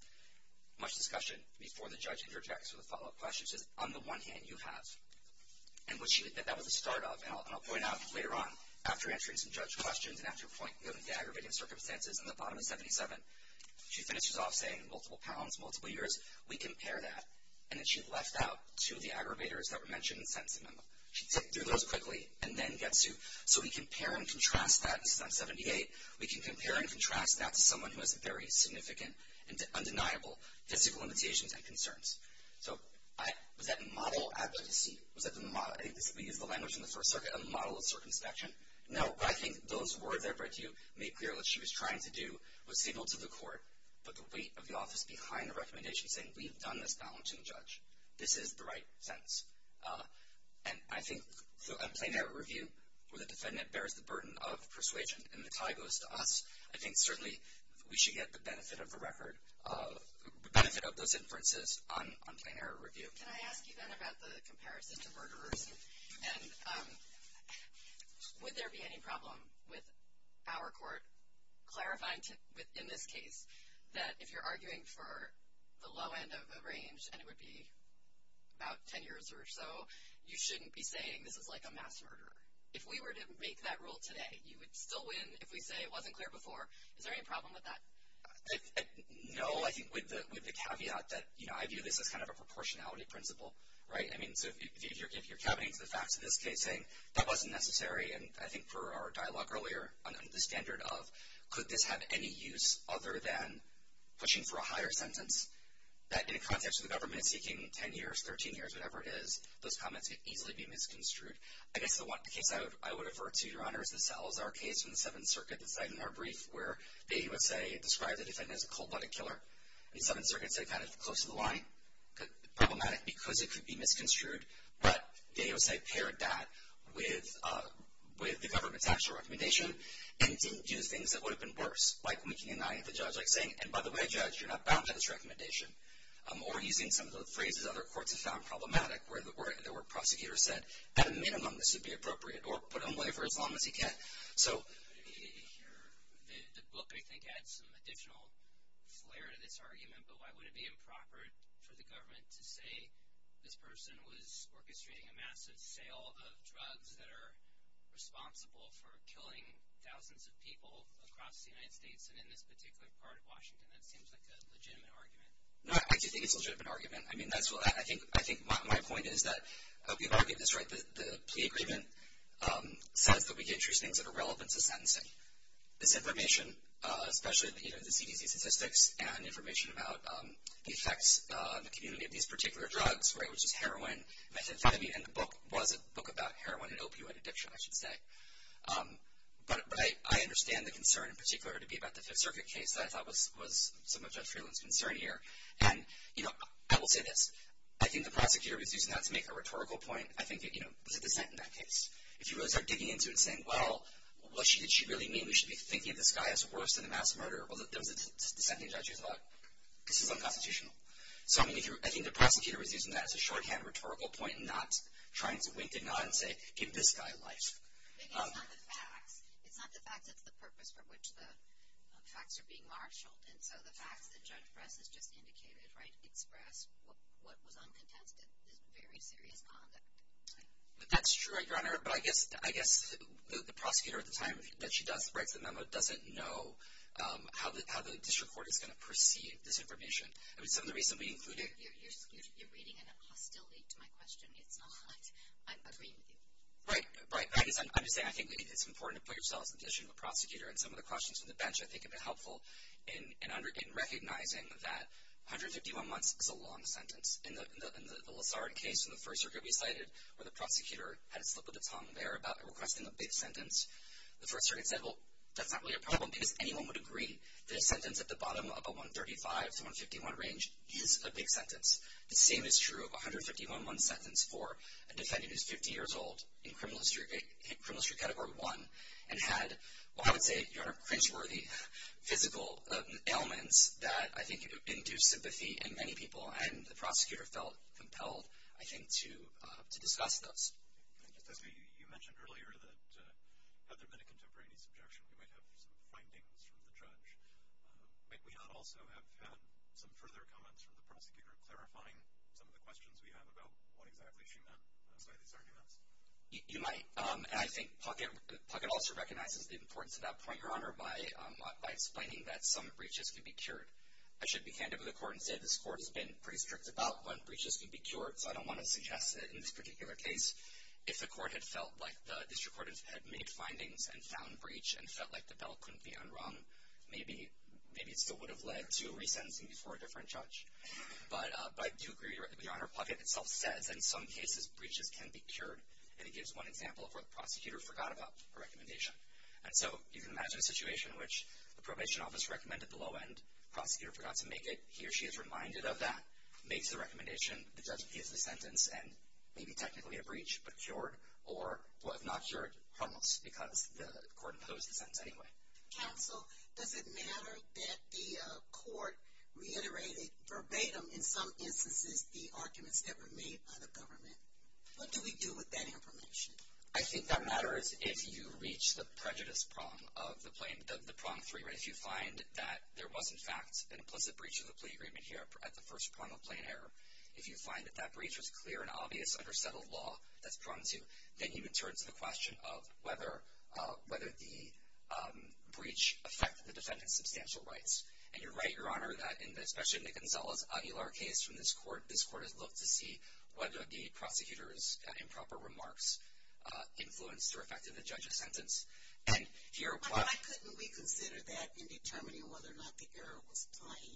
much discussion before the judge interjects with a follow-up question, she says, on the one hand, you have. And that was the start of, and I'll point out later on, after answering some judge questions, and after a point dealing with the aggravating circumstances in the bottom of 77, she finishes off saying multiple pounds, multiple years, we compare that. And then she left out two of the aggravators that were mentioned in the sentencing memo. She ticked through those quickly and then gets to, so we compare and contrast that. This is on 78. We can compare and contrast that to someone who has very significant and undeniable physical limitations and concerns. So was that model advocacy? Was that the model? I think we used the language in the First Circuit, a model of circumspection. No, I think those words that you made clear what she was trying to do was signal to the court, but the weight of the office behind the recommendation saying, we've done this down to the judge. This is the right sentence. And I think a plain error review where the defendant bears the burden of persuasion and the tie goes to us, I think certainly we should get the benefit of the record, the benefit of those inferences on plain error review. Can I ask you then about the comparison to murderers? And would there be any problem with our court clarifying in this case that if you're arguing for the low end of a range and it would be about ten years or so, you shouldn't be saying this is like a mass murder. If we were to make that rule today, you would still win if we say it wasn't clear before. Is there any problem with that? No, I think with the caveat that, you know, I view this as kind of a proportionality principle, right? I mean, so if you're caving to the facts of this case saying that wasn't necessary, and I think for our dialogue earlier on the standard of could this have any use other than pushing for a higher sentence, that in a context where the government is seeking ten years, thirteen years, whatever it is, those comments could easily be misconstrued. I guess the case I would avert to, Your Honor, is the Salazar case from the Seventh Circuit, the site in our brief where they would say, describe the defendant as a cold-blooded killer. And the Seventh Circuit said kind of close to the line, problematic because it could be misconstrued, but they would say paired that with the government's actual recommendation and didn't do things that would have been worse. Like making an eye at the judge, like saying, and by the way, judge, you're not bound by this recommendation. Or using some of the phrases other courts have found problematic, where the word prosecutor said, at a minimum, this would be appropriate, or put him away for as long as he can. The book, I think, adds some additional flair to this argument, but why would it be improper for the government to say this person was orchestrating a massive sale of drugs that are responsible for killing thousands of people across the United States and in this particular part of Washington? That seems like a legitimate argument. No, I do think it's a legitimate argument. I think my point is that we've argued this right. The plea agreement says that we gave truce names that are relevant to sentencing. This information, especially the CDC statistics and information about the effects on the community of these particular drugs, which is heroin, methamphetamine, and the book was a book about heroin and opioid addiction, I should say. But I understand the concern, in particular, to be about the Fifth Circuit case that I thought was some of Judge Freeland's concern here. And I will say this. I think the prosecutor was using that to make a rhetorical point. I think that, you know, there's a dissent in that case. If you really start digging into it and saying, well, what did she really mean? We should be thinking of this guy as worse than a mass murderer. Well, there was a dissenting judge who thought, this is unconstitutional. So, I mean, I think the prosecutor was using that as a shorthand rhetorical point and not trying to wink the nod and say, give this guy life. But it's not the facts. It's not the facts. It's the purpose for which the facts are being marshaled. And so the facts that Judge Fress has just indicated, right, express what was uncontested, this very serious conduct. That's true, Your Honor. But I guess the prosecutor at the time that she does write the memo doesn't know how the district court is going to perceive this information. I mean, some of the reasons we included it. You're reading in a hostility to my question. It's not like I'm agreeing with you. Right. Right. I'm just saying I think it's important to put yourself in the position of a prosecutor. And some of the questions from the bench, I think, have been helpful in recognizing that 151 months is a long sentence. In the Lessard case in the First Circuit we cited, where the prosecutor had a slip of the tongue there about requesting a big sentence, the First Circuit said, well, that's not really a problem because anyone would agree that a sentence at the bottom of a 135 to 151 range is a big sentence. The same is true of a 151-month sentence for a defendant who is 50 years old in criminal history category one and had, well, I would say, cringe-worthy physical ailments that I think induced sympathy in many people. And the prosecutor felt compelled, I think, to discuss those. You mentioned earlier that had there been a contemporaneous objection, we might have some findings from the judge. Might we not also have had some further comments from the prosecutor clarifying some of the questions we have about what exactly she meant by these arguments? You might. And I think Puckett also recognizes the importance of that point, Your Honor, by explaining that some breaches can be cured. I should be handed over to the court and say this court has been pretty strict about when breaches can be cured, so I don't want to suggest that in this particular case, if the court had felt like the district court had made findings and found breach and felt like the bell couldn't be unrung, maybe it still would have led to a resentencing before a different judge. But I do agree, Your Honor, Puckett itself says in some cases breaches can be cured, and he gives one example of where the prosecutor forgot about a recommendation. And so you can imagine a situation in which the probation office recommended the low end, the prosecutor forgot to make it, he or she is reminded of that, makes the recommendation, the judge gives the sentence, and maybe technically a breach, but cured, or was not cured, almost, because the court imposed the sentence anyway. Counsel, does it matter that the court reiterated verbatim, in some instances, the arguments that were made by the government? What do we do with that information? I think that matters if you reach the prejudice prong of the prong three, right? If you find that there was, in fact, an implicit breach of the plea agreement here at the first prong of plain error, if you find that that breach was clear and obvious under settled law, that's prong two, then you can turn to the question of whether the breach affected the defendant's substantial rights. And you're right, Your Honor, that especially in the Gonzales Aguilar case from this court, this court has looked to see whether the prosecutor's improper remarks influenced or affected the judge's sentence. But why couldn't we consider that in determining whether or not the error was plain?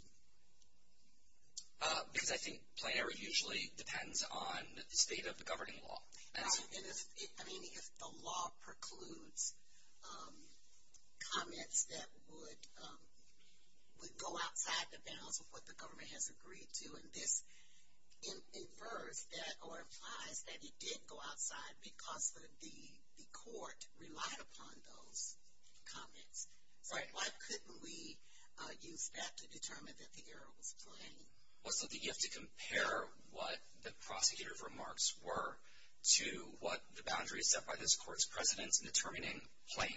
Because I think plain error usually depends on the state of the governing law. I mean, if the law precludes comments that would go outside the bounds of what the government has agreed to, and this infers that or implies that it did go outside because the court relied upon those comments, why couldn't we use that to determine that the error was plain? What's the gift to compare what the prosecutor's remarks were to what the boundaries set by this court's precedents in determining plain?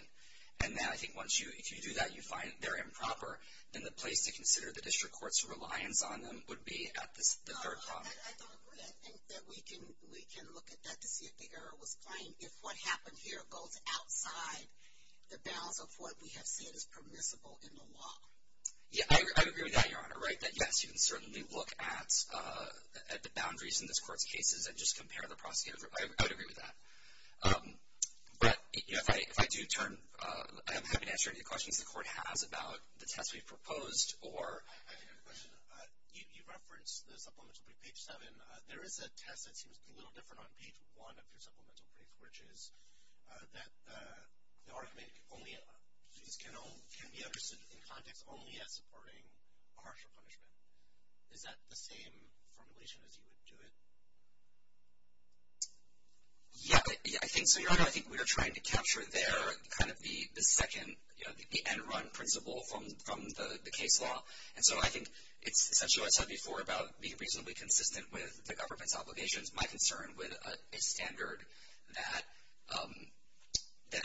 And then I think once you do that, you find they're improper, then the place to consider the district court's reliance on them would be at the third prong. I don't agree. I think that we can look at that to see if the error was plain. If what happened here goes outside the bounds of what we have said is permissible in the law. Yeah, I agree with that, Your Honor, right, that, yes, you can certainly look at the boundaries in this court's cases and just compare the prosecutors. I would agree with that. But if I do turn, I'm happy to answer any questions the court has about the test we've proposed or... I have a question. You referenced the supplemental brief, page 7. There is a test that seems a little different on page 1 of your supplemental brief, which is that the argument can be understood in context only as supporting a harsher punishment. Is that the same formulation as you would do it? Yeah. I think, so, Your Honor, I think we are trying to capture there kind of the second, you know, the end-run principle from the case law. And so I think it's essentially what I said before about being reasonably consistent with the government's obligations. My concern with a standard that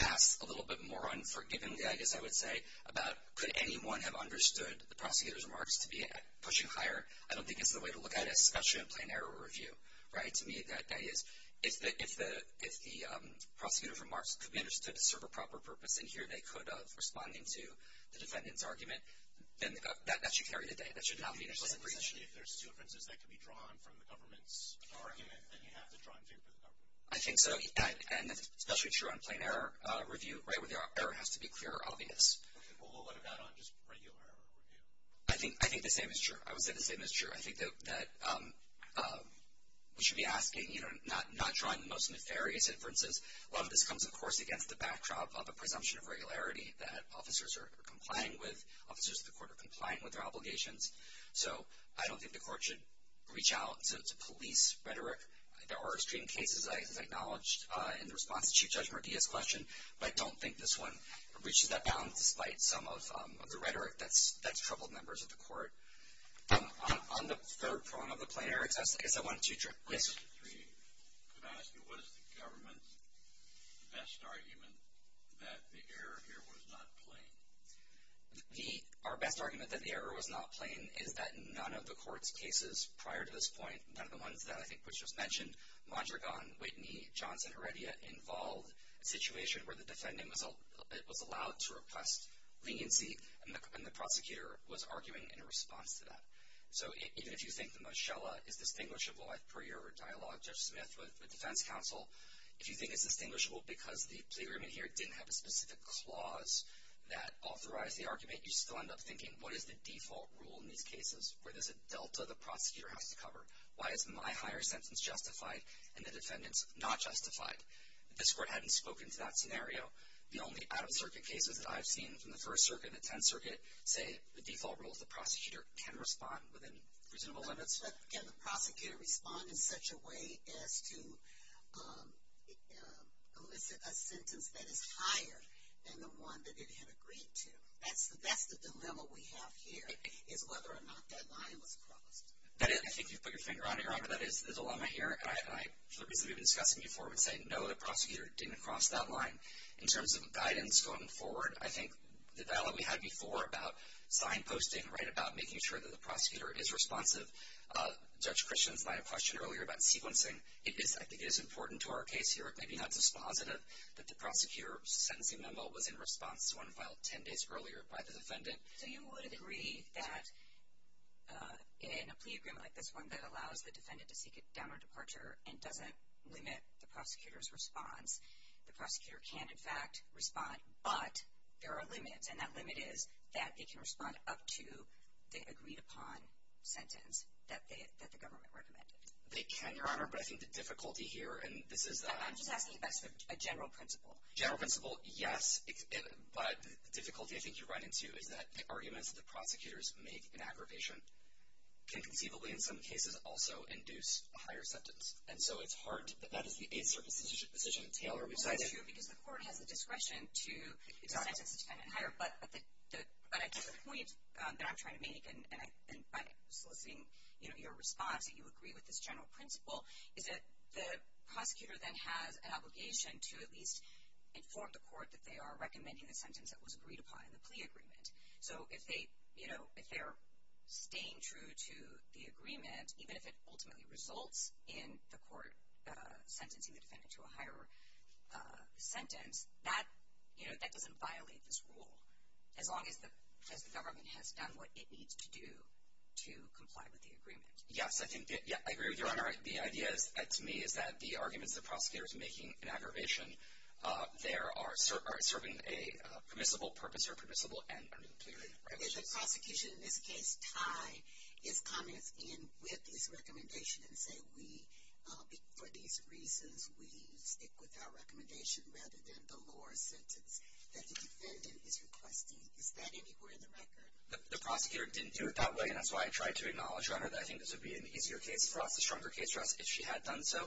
asks a little bit more unforgivingly, I guess I would say, about could anyone have understood the prosecutor's remarks to be pushing higher, I don't think it's the way to look at it, especially in a plain error review, right? To me, that is, if the prosecutor's remarks could be understood to serve a proper purpose, and here they could of responding to the defendant's argument, then that should carry the day. If there's two inferences that can be drawn from the government's argument, then you have to draw in favor of the government. I think so. And that's especially true on a plain error review, right, where the error has to be clear or obvious. Okay. Well, what about on just regular error review? I think the same is true. I would say the same is true. I think that we should be asking, you know, not drawing the most nefarious inferences. A lot of this comes, of course, against the backdrop of a presumption of regularity that officers are complying with, officers of the court are complying with their obligations. So I don't think the court should reach out to police rhetoric. There are extreme cases, as I acknowledged, in the response to Chief Judge Murdia's question, but I don't think this one breaches that bound, despite some of the rhetoric that's troubled members of the court. On the third point of the plain error test, I guess I wanted to address. Yes. Mr. Three, could I ask you what is the government's best argument that the error here was not plain? Our best argument that the error was not plain is that none of the court's cases prior to this point, none of the ones that I think was just mentioned, Mondragon, Whitney, Johnson, Heredia, involved a situation where the defendant was allowed to request leniency, and the prosecutor was arguing in response to that. So even if you think the Moshella is distinguishable for your dialogue, Judge Smith, with defense counsel, if you think it's distinguishable because the plea agreement here didn't have a specific clause that authorized the argument, you still end up thinking, what is the default rule in these cases? Where there's a delta the prosecutor has to cover? Why is my higher sentence justified and the defendant's not justified? If this court hadn't spoken to that scenario, the only out-of-circuit cases that I've seen from the First Circuit and the Tenth Circuit say the default rule is the prosecutor can respond within reasonable limits. But can the prosecutor respond in such a way as to elicit a sentence that is higher than the one that it had agreed to? That's the dilemma we have here, is whether or not that line was crossed. I think you've put your finger on it, Your Honor. That is the dilemma here. For the reasons we've been discussing before, I would say no, the prosecutor didn't cross that line. In terms of guidance going forward, I think the dialogue we had before about signposting, about making sure that the prosecutor is responsive, Judge Christians might have questioned earlier about sequencing. I think it is important to our case here, it may be not dispositive that the prosecutor's sentencing memo was in response to one filed 10 days earlier by the defendant. So you would agree that in a plea agreement like this one that allows the defendant to seek a downward departure and doesn't limit the prosecutor's response, the prosecutor can, in fact, respond, but there are limits. And that limit is that they can respond up to the agreed-upon sentence that the government recommended. They can, Your Honor, but I think the difficulty here, and this is a— I'm just asking about a general principle. General principle, yes. But the difficulty I think you run into is that the arguments that the prosecutors make in aggravation can conceivably, in some cases, also induce a higher sentence. And so it's hard to—that is a certain position that Taylor resides in. Well, that's true because the court has the discretion to sentence the defendant higher. But I guess the point that I'm trying to make, and by soliciting your response, that you agree with this general principle, is that the prosecutor then has an obligation to at least inform the court that they are recommending the sentence that was agreed upon in the plea agreement. So if they're staying true to the agreement, even if it ultimately results in the court sentencing the defendant to a higher sentence, that doesn't violate this rule, as long as the government has done what it needs to do to comply with the agreement. Yes, I agree with you, Your Honor. The idea, to me, is that the arguments the prosecutor is making in aggravation, they are serving a permissible purpose or permissible end under the plea agreement. Is the prosecution, in this case, tied its comments in with this recommendation and say, for these reasons, we stick with our recommendation rather than the lower sentence that the defendant is requesting? Is that anywhere in the record? The prosecutor didn't do it that way, and that's why I tried to acknowledge, Your Honor, that I think this would be an easier case for us, a stronger case for us, if she had done so.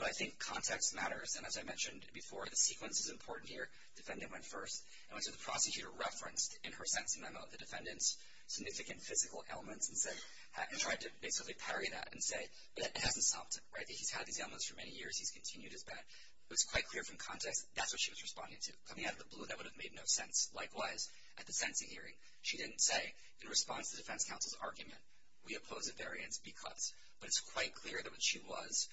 But I think context matters. And as I mentioned before, the sequence is important here. Defendant went first. And so the prosecutor referenced, in her sentencing memo, the defendant's significant physical ailments and tried to basically parry that and say, but that hasn't stopped him, right? He's had these ailments for many years. He's continued his bad. It was quite clear from context that that's what she was responding to. Coming out of the blue, that would have made no sense. Likewise, at the sentencing hearing, she didn't say, in response to the defense counsel's argument, we oppose a variance because. But it's quite clear that she was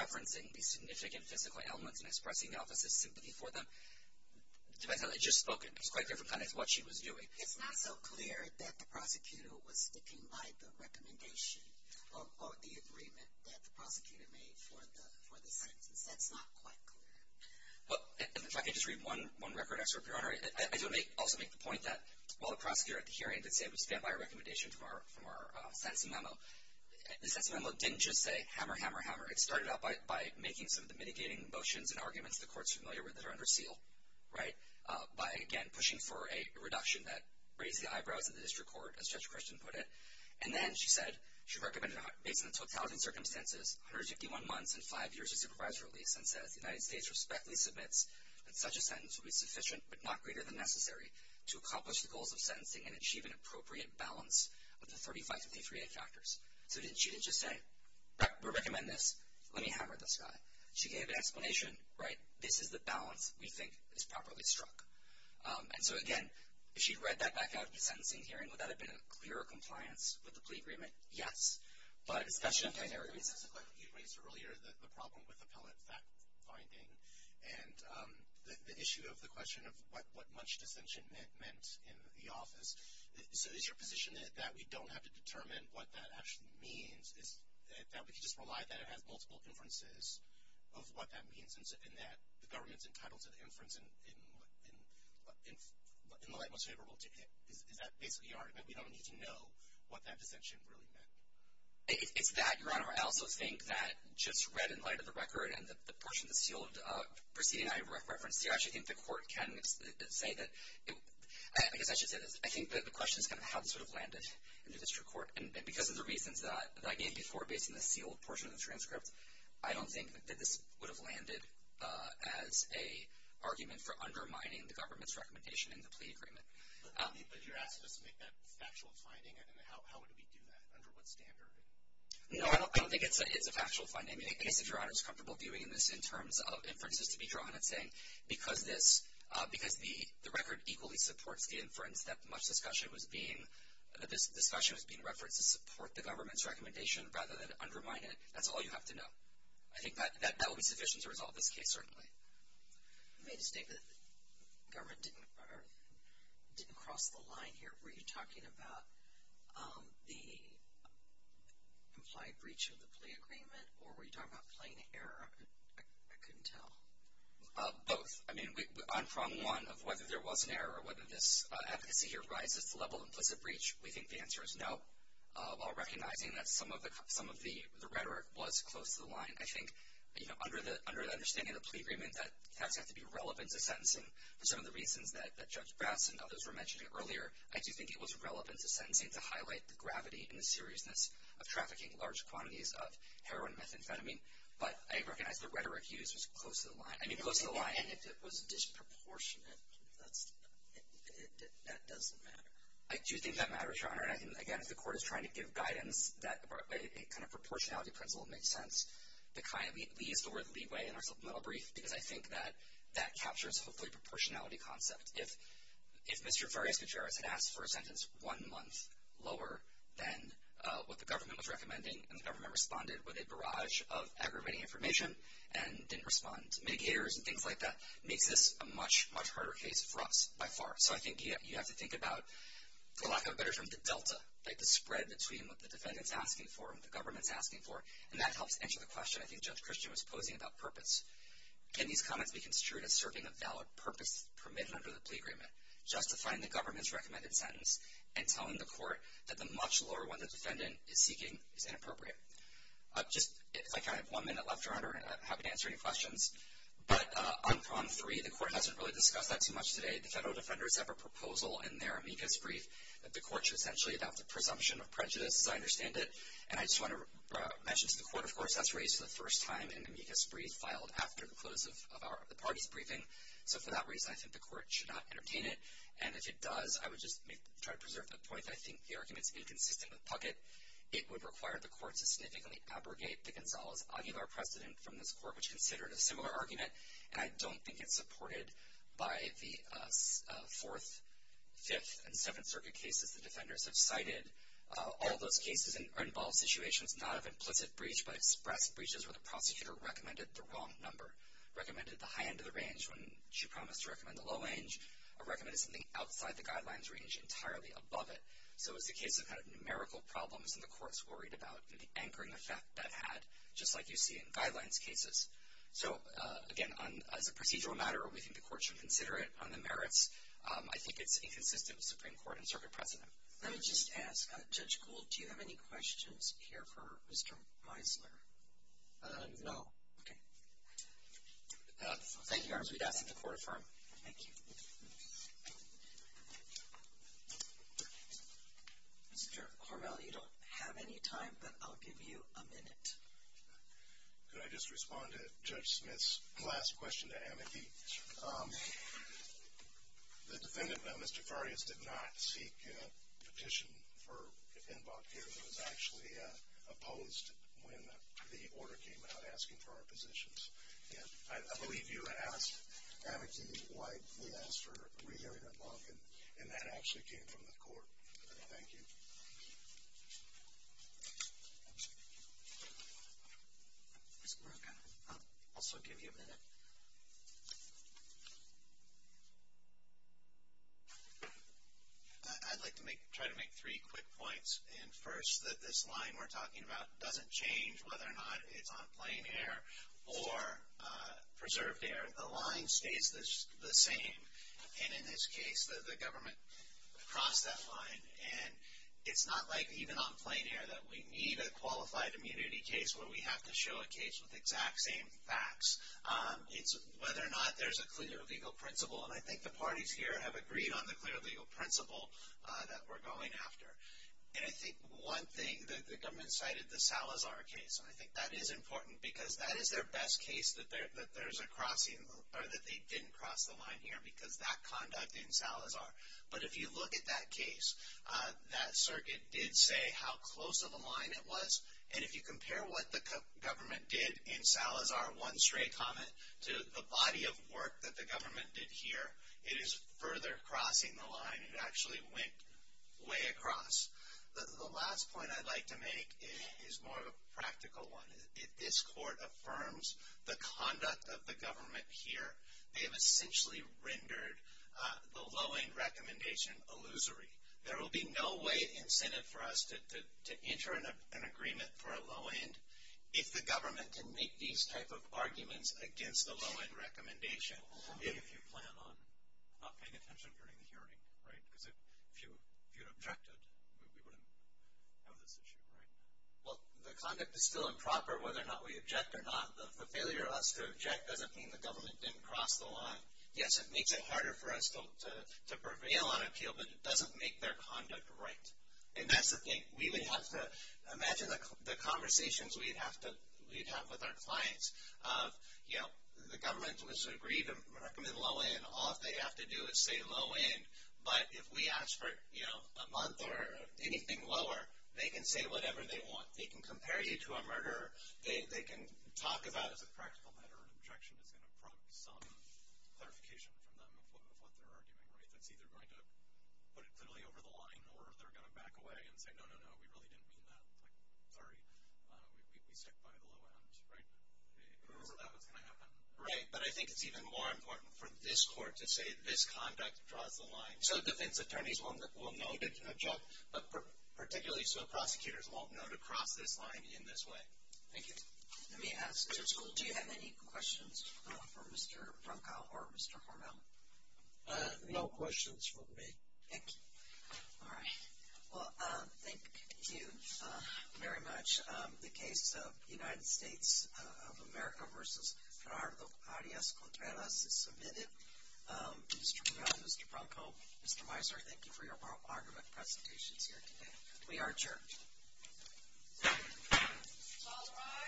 referencing the significant physical ailments and expressing the office's sympathy for them. The defense counsel had just spoken. It was quite clear from context what she was doing. It's not so clear that the prosecutor was sticking by the recommendation or the agreement that the prosecutor made for the sentence. That's not quite clear. In fact, I can just read one record, Your Honor. I do want to also make the point that while the prosecutor at the hearing did say it was a sense of memo, the sense of memo didn't just say hammer, hammer, hammer. It started out by making some of the mitigating motions and arguments the court is familiar with that are under seal, right? By, again, pushing for a reduction that raised the eyebrows of the district court, as Judge Christian put it. And then she said she recommended, based on the totality of circumstances, 151 months and five years of supervisory release, and says the United States respectfully submits that such a sentence would be sufficient but not greater than necessary to accomplish the goals of sentencing and achieve an appropriate balance of the 3553A factors. So she didn't just say, we recommend this. Let me hammer this guy. She gave an explanation, right? This is the balance we think is properly struck. And so, again, if she had read that back out of the sentencing hearing, would that have been a clearer compliance with the plea agreement? Yes. But it's a question of time. This is a question you raised earlier, the problem with appellate fact finding and the issue of the question of what much dissension meant in the office. So is your position that we don't have to determine what that actually means, that we can just rely that it has multiple inferences of what that means, and that the government's entitled to the inference in the light most favorable to it? Is that basically your argument? We don't need to know what that dissension really meant? It's that, Your Honor. I also think that just read in light of the record and the portion of the sealed proceeding I referenced here, I actually think the court can say that. I guess I should say this. I think the question is kind of how this would have landed in the district court. And because of the reasons that I gave before, based on the sealed portion of the transcript, I don't think that this would have landed as an argument for undermining the government's recommendation in the plea agreement. But you're asking us to make that factual finding, and how would we do that, under what standard? No, I don't think it's a factual finding. I guess if Your Honor is comfortable viewing this in terms of inferences to be drawn, it's saying because the record equally supports the inference that this discussion was being referenced to support the government's recommendation rather than undermine it, that's all you have to know. I think that would be sufficient to resolve this case, certainly. You made a statement that the government didn't cross the line here. Were you talking about the implied breach of the plea agreement, or were you talking about plain error? I couldn't tell. Both. I mean, on prong one of whether there was an error or whether this advocacy here rises to the level of implicit breach, we think the answer is no, while recognizing that some of the rhetoric was close to the line. I think, you know, under the understanding of the plea agreement, that has to be relevant to sentencing. For some of the reasons that Judge Brass and others were mentioning earlier, I do think it was relevant to sentencing to highlight the gravity and the seriousness of trafficking large quantities of heroin and methamphetamine, but I recognize the rhetoric used was close to the line. I mean, close to the line. And if it was disproportionate, that doesn't matter. I do think that matters, Your Honor, and I think, again, if the Court is trying to give guidance, that kind of proportionality principle makes sense. The kind of least or the leeway in our supplemental brief, because I think that that captures, hopefully, proportionality concept. If Mr. Vargas-Gutierrez had asked for a sentence one month lower than what the government was recommending, and the government responded with a barrage of aggravating information and didn't respond to mitigators and things like that, it makes this a much, much harder case for us, by far. So I think you have to think about, for lack of a better term, the delta, like the spread between what the defendant's asking for and what the government's asking for, and that helps answer the question I think Judge Christian was posing about purpose. Can these comments be construed as serving a valid purpose permitted under the plea agreement, justifying the government's recommended sentence and telling the Court that the much lower one the defendant is seeking is inappropriate? I have one minute left, Your Honor, and I'm happy to answer any questions. But on prong three, the Court hasn't really discussed that too much today. The federal defenders have a proposal in their amicus brief that the Court should essentially adopt a presumption of prejudice, as I understand it. And I just want to mention to the Court, of course, that's raised for the first time in the amicus brief filed after the close of the parties' briefing. So for that reason, I think the Court should not entertain it. And if it does, I would just try to preserve the point that I think the argument's inconsistent with Puckett. It would require the Court to significantly abrogate the Gonzales-Aguilar precedent from this Court, which considered a similar argument, and I don't think it's supported by the Fourth, Fifth, and Seventh Circuit cases the defenders have cited. All those cases involve situations not of implicit breach, but express breaches where the prosecutor recommended the wrong number, recommended the high end of the range when she promised to recommend the low end, or recommended something outside the guidelines range entirely above it. So it's a case of numerical problems, and the Court's worried about the anchoring effect that had, just like you see in guidelines cases. So, again, as a procedural matter, we think the Court should consider it on the merits. I think it's inconsistent with Supreme Court and Circuit precedent. Let me just ask, Judge Gould, do you have any questions here for Mr. Meisler? No. Thank you, Your Honor. We'd ask that the Court affirm. Thank you. Mr. Hormel, you don't have any time, but I'll give you a minute. Could I just respond to Judge Smith's last question to Amity? Sure. The defendant, Mr. Farias, did not seek a petition for invoke here. It was actually opposed when the order came out asking for our positions. And I believe you asked Amity why we asked for a rehearing invoke, and that actually came from the Court. Thank you. Ms. Baraka, I'll also give you a minute. I'd like to try to make three quick points. And first, that this line we're talking about doesn't change whether or not it's on plain air or preserved air. The line stays the same. And in this case, the government crossed that line. And it's not like even on plain air that we need a qualified immunity case where we have to show a case with exact same facts. It's whether or not there's a clear legal principle. And I think the parties here have agreed on the clear legal principle that we're going after. And I think one thing that the government cited, the Salazar case, and I think that is important because that is their best case that there's a crossing or that they didn't cross the line here because that conduct in Salazar. But if you look at that case, that circuit did say how close of a line it was. And if you compare what the government did in Salazar, one stray comment, to the body of work that the government did here, it is further crossing the line. It actually went way across. The last point I'd like to make is more of a practical one. If this court affirms the conduct of the government here, they have essentially rendered the low-end recommendation illusory. There will be no way incentive for us to enter an agreement for a low-end if the government can make these type of arguments against the low-end recommendation. If you plan on not paying attention during the hearing, right? Because if you objected, we wouldn't have this issue, right? Well, the conduct is still improper whether or not we object or not. The failure of us to object doesn't mean the government didn't cross the line. Yes, it makes it harder for us to prevail on appeal, but it doesn't make their conduct right. And that's the thing. We would have to imagine the conversations we'd have with our clients of, you know, the government was agreed to recommend low-end. All they have to do is say low-end. But if we ask for, you know, a month or anything lower, they can say whatever they want. They can compare you to a murderer. They can talk about it as a practical matter. Objection is going to prompt some clarification from them of what they're arguing, right? That's either going to put it clearly over the line or they're going to back away and say, no, no, no, we really didn't mean that. Like, sorry, we stick by the low end, right? That's not what's going to happen. Right, but I think it's even more important for this court to say this conduct draws the line. So defense attorneys will know they can object, but particularly so prosecutors won't know to cross this line in this way. Thank you. Let me ask, do you have any questions for Mr. Bronco or Mr. Hormel? No questions for me. Thank you. All right. Well, thank you very much. The case of the United States of America versus Fernando Arias Contreras is submitted. Mr. Hormel, Mr. Bronco, Mr. Mizer, thank you for your argument presentations here today. We are adjourned. All rise. This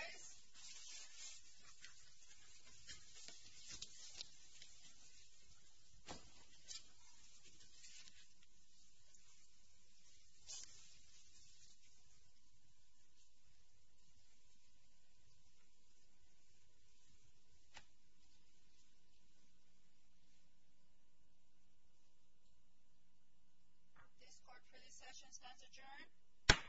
court for this session stands adjourned.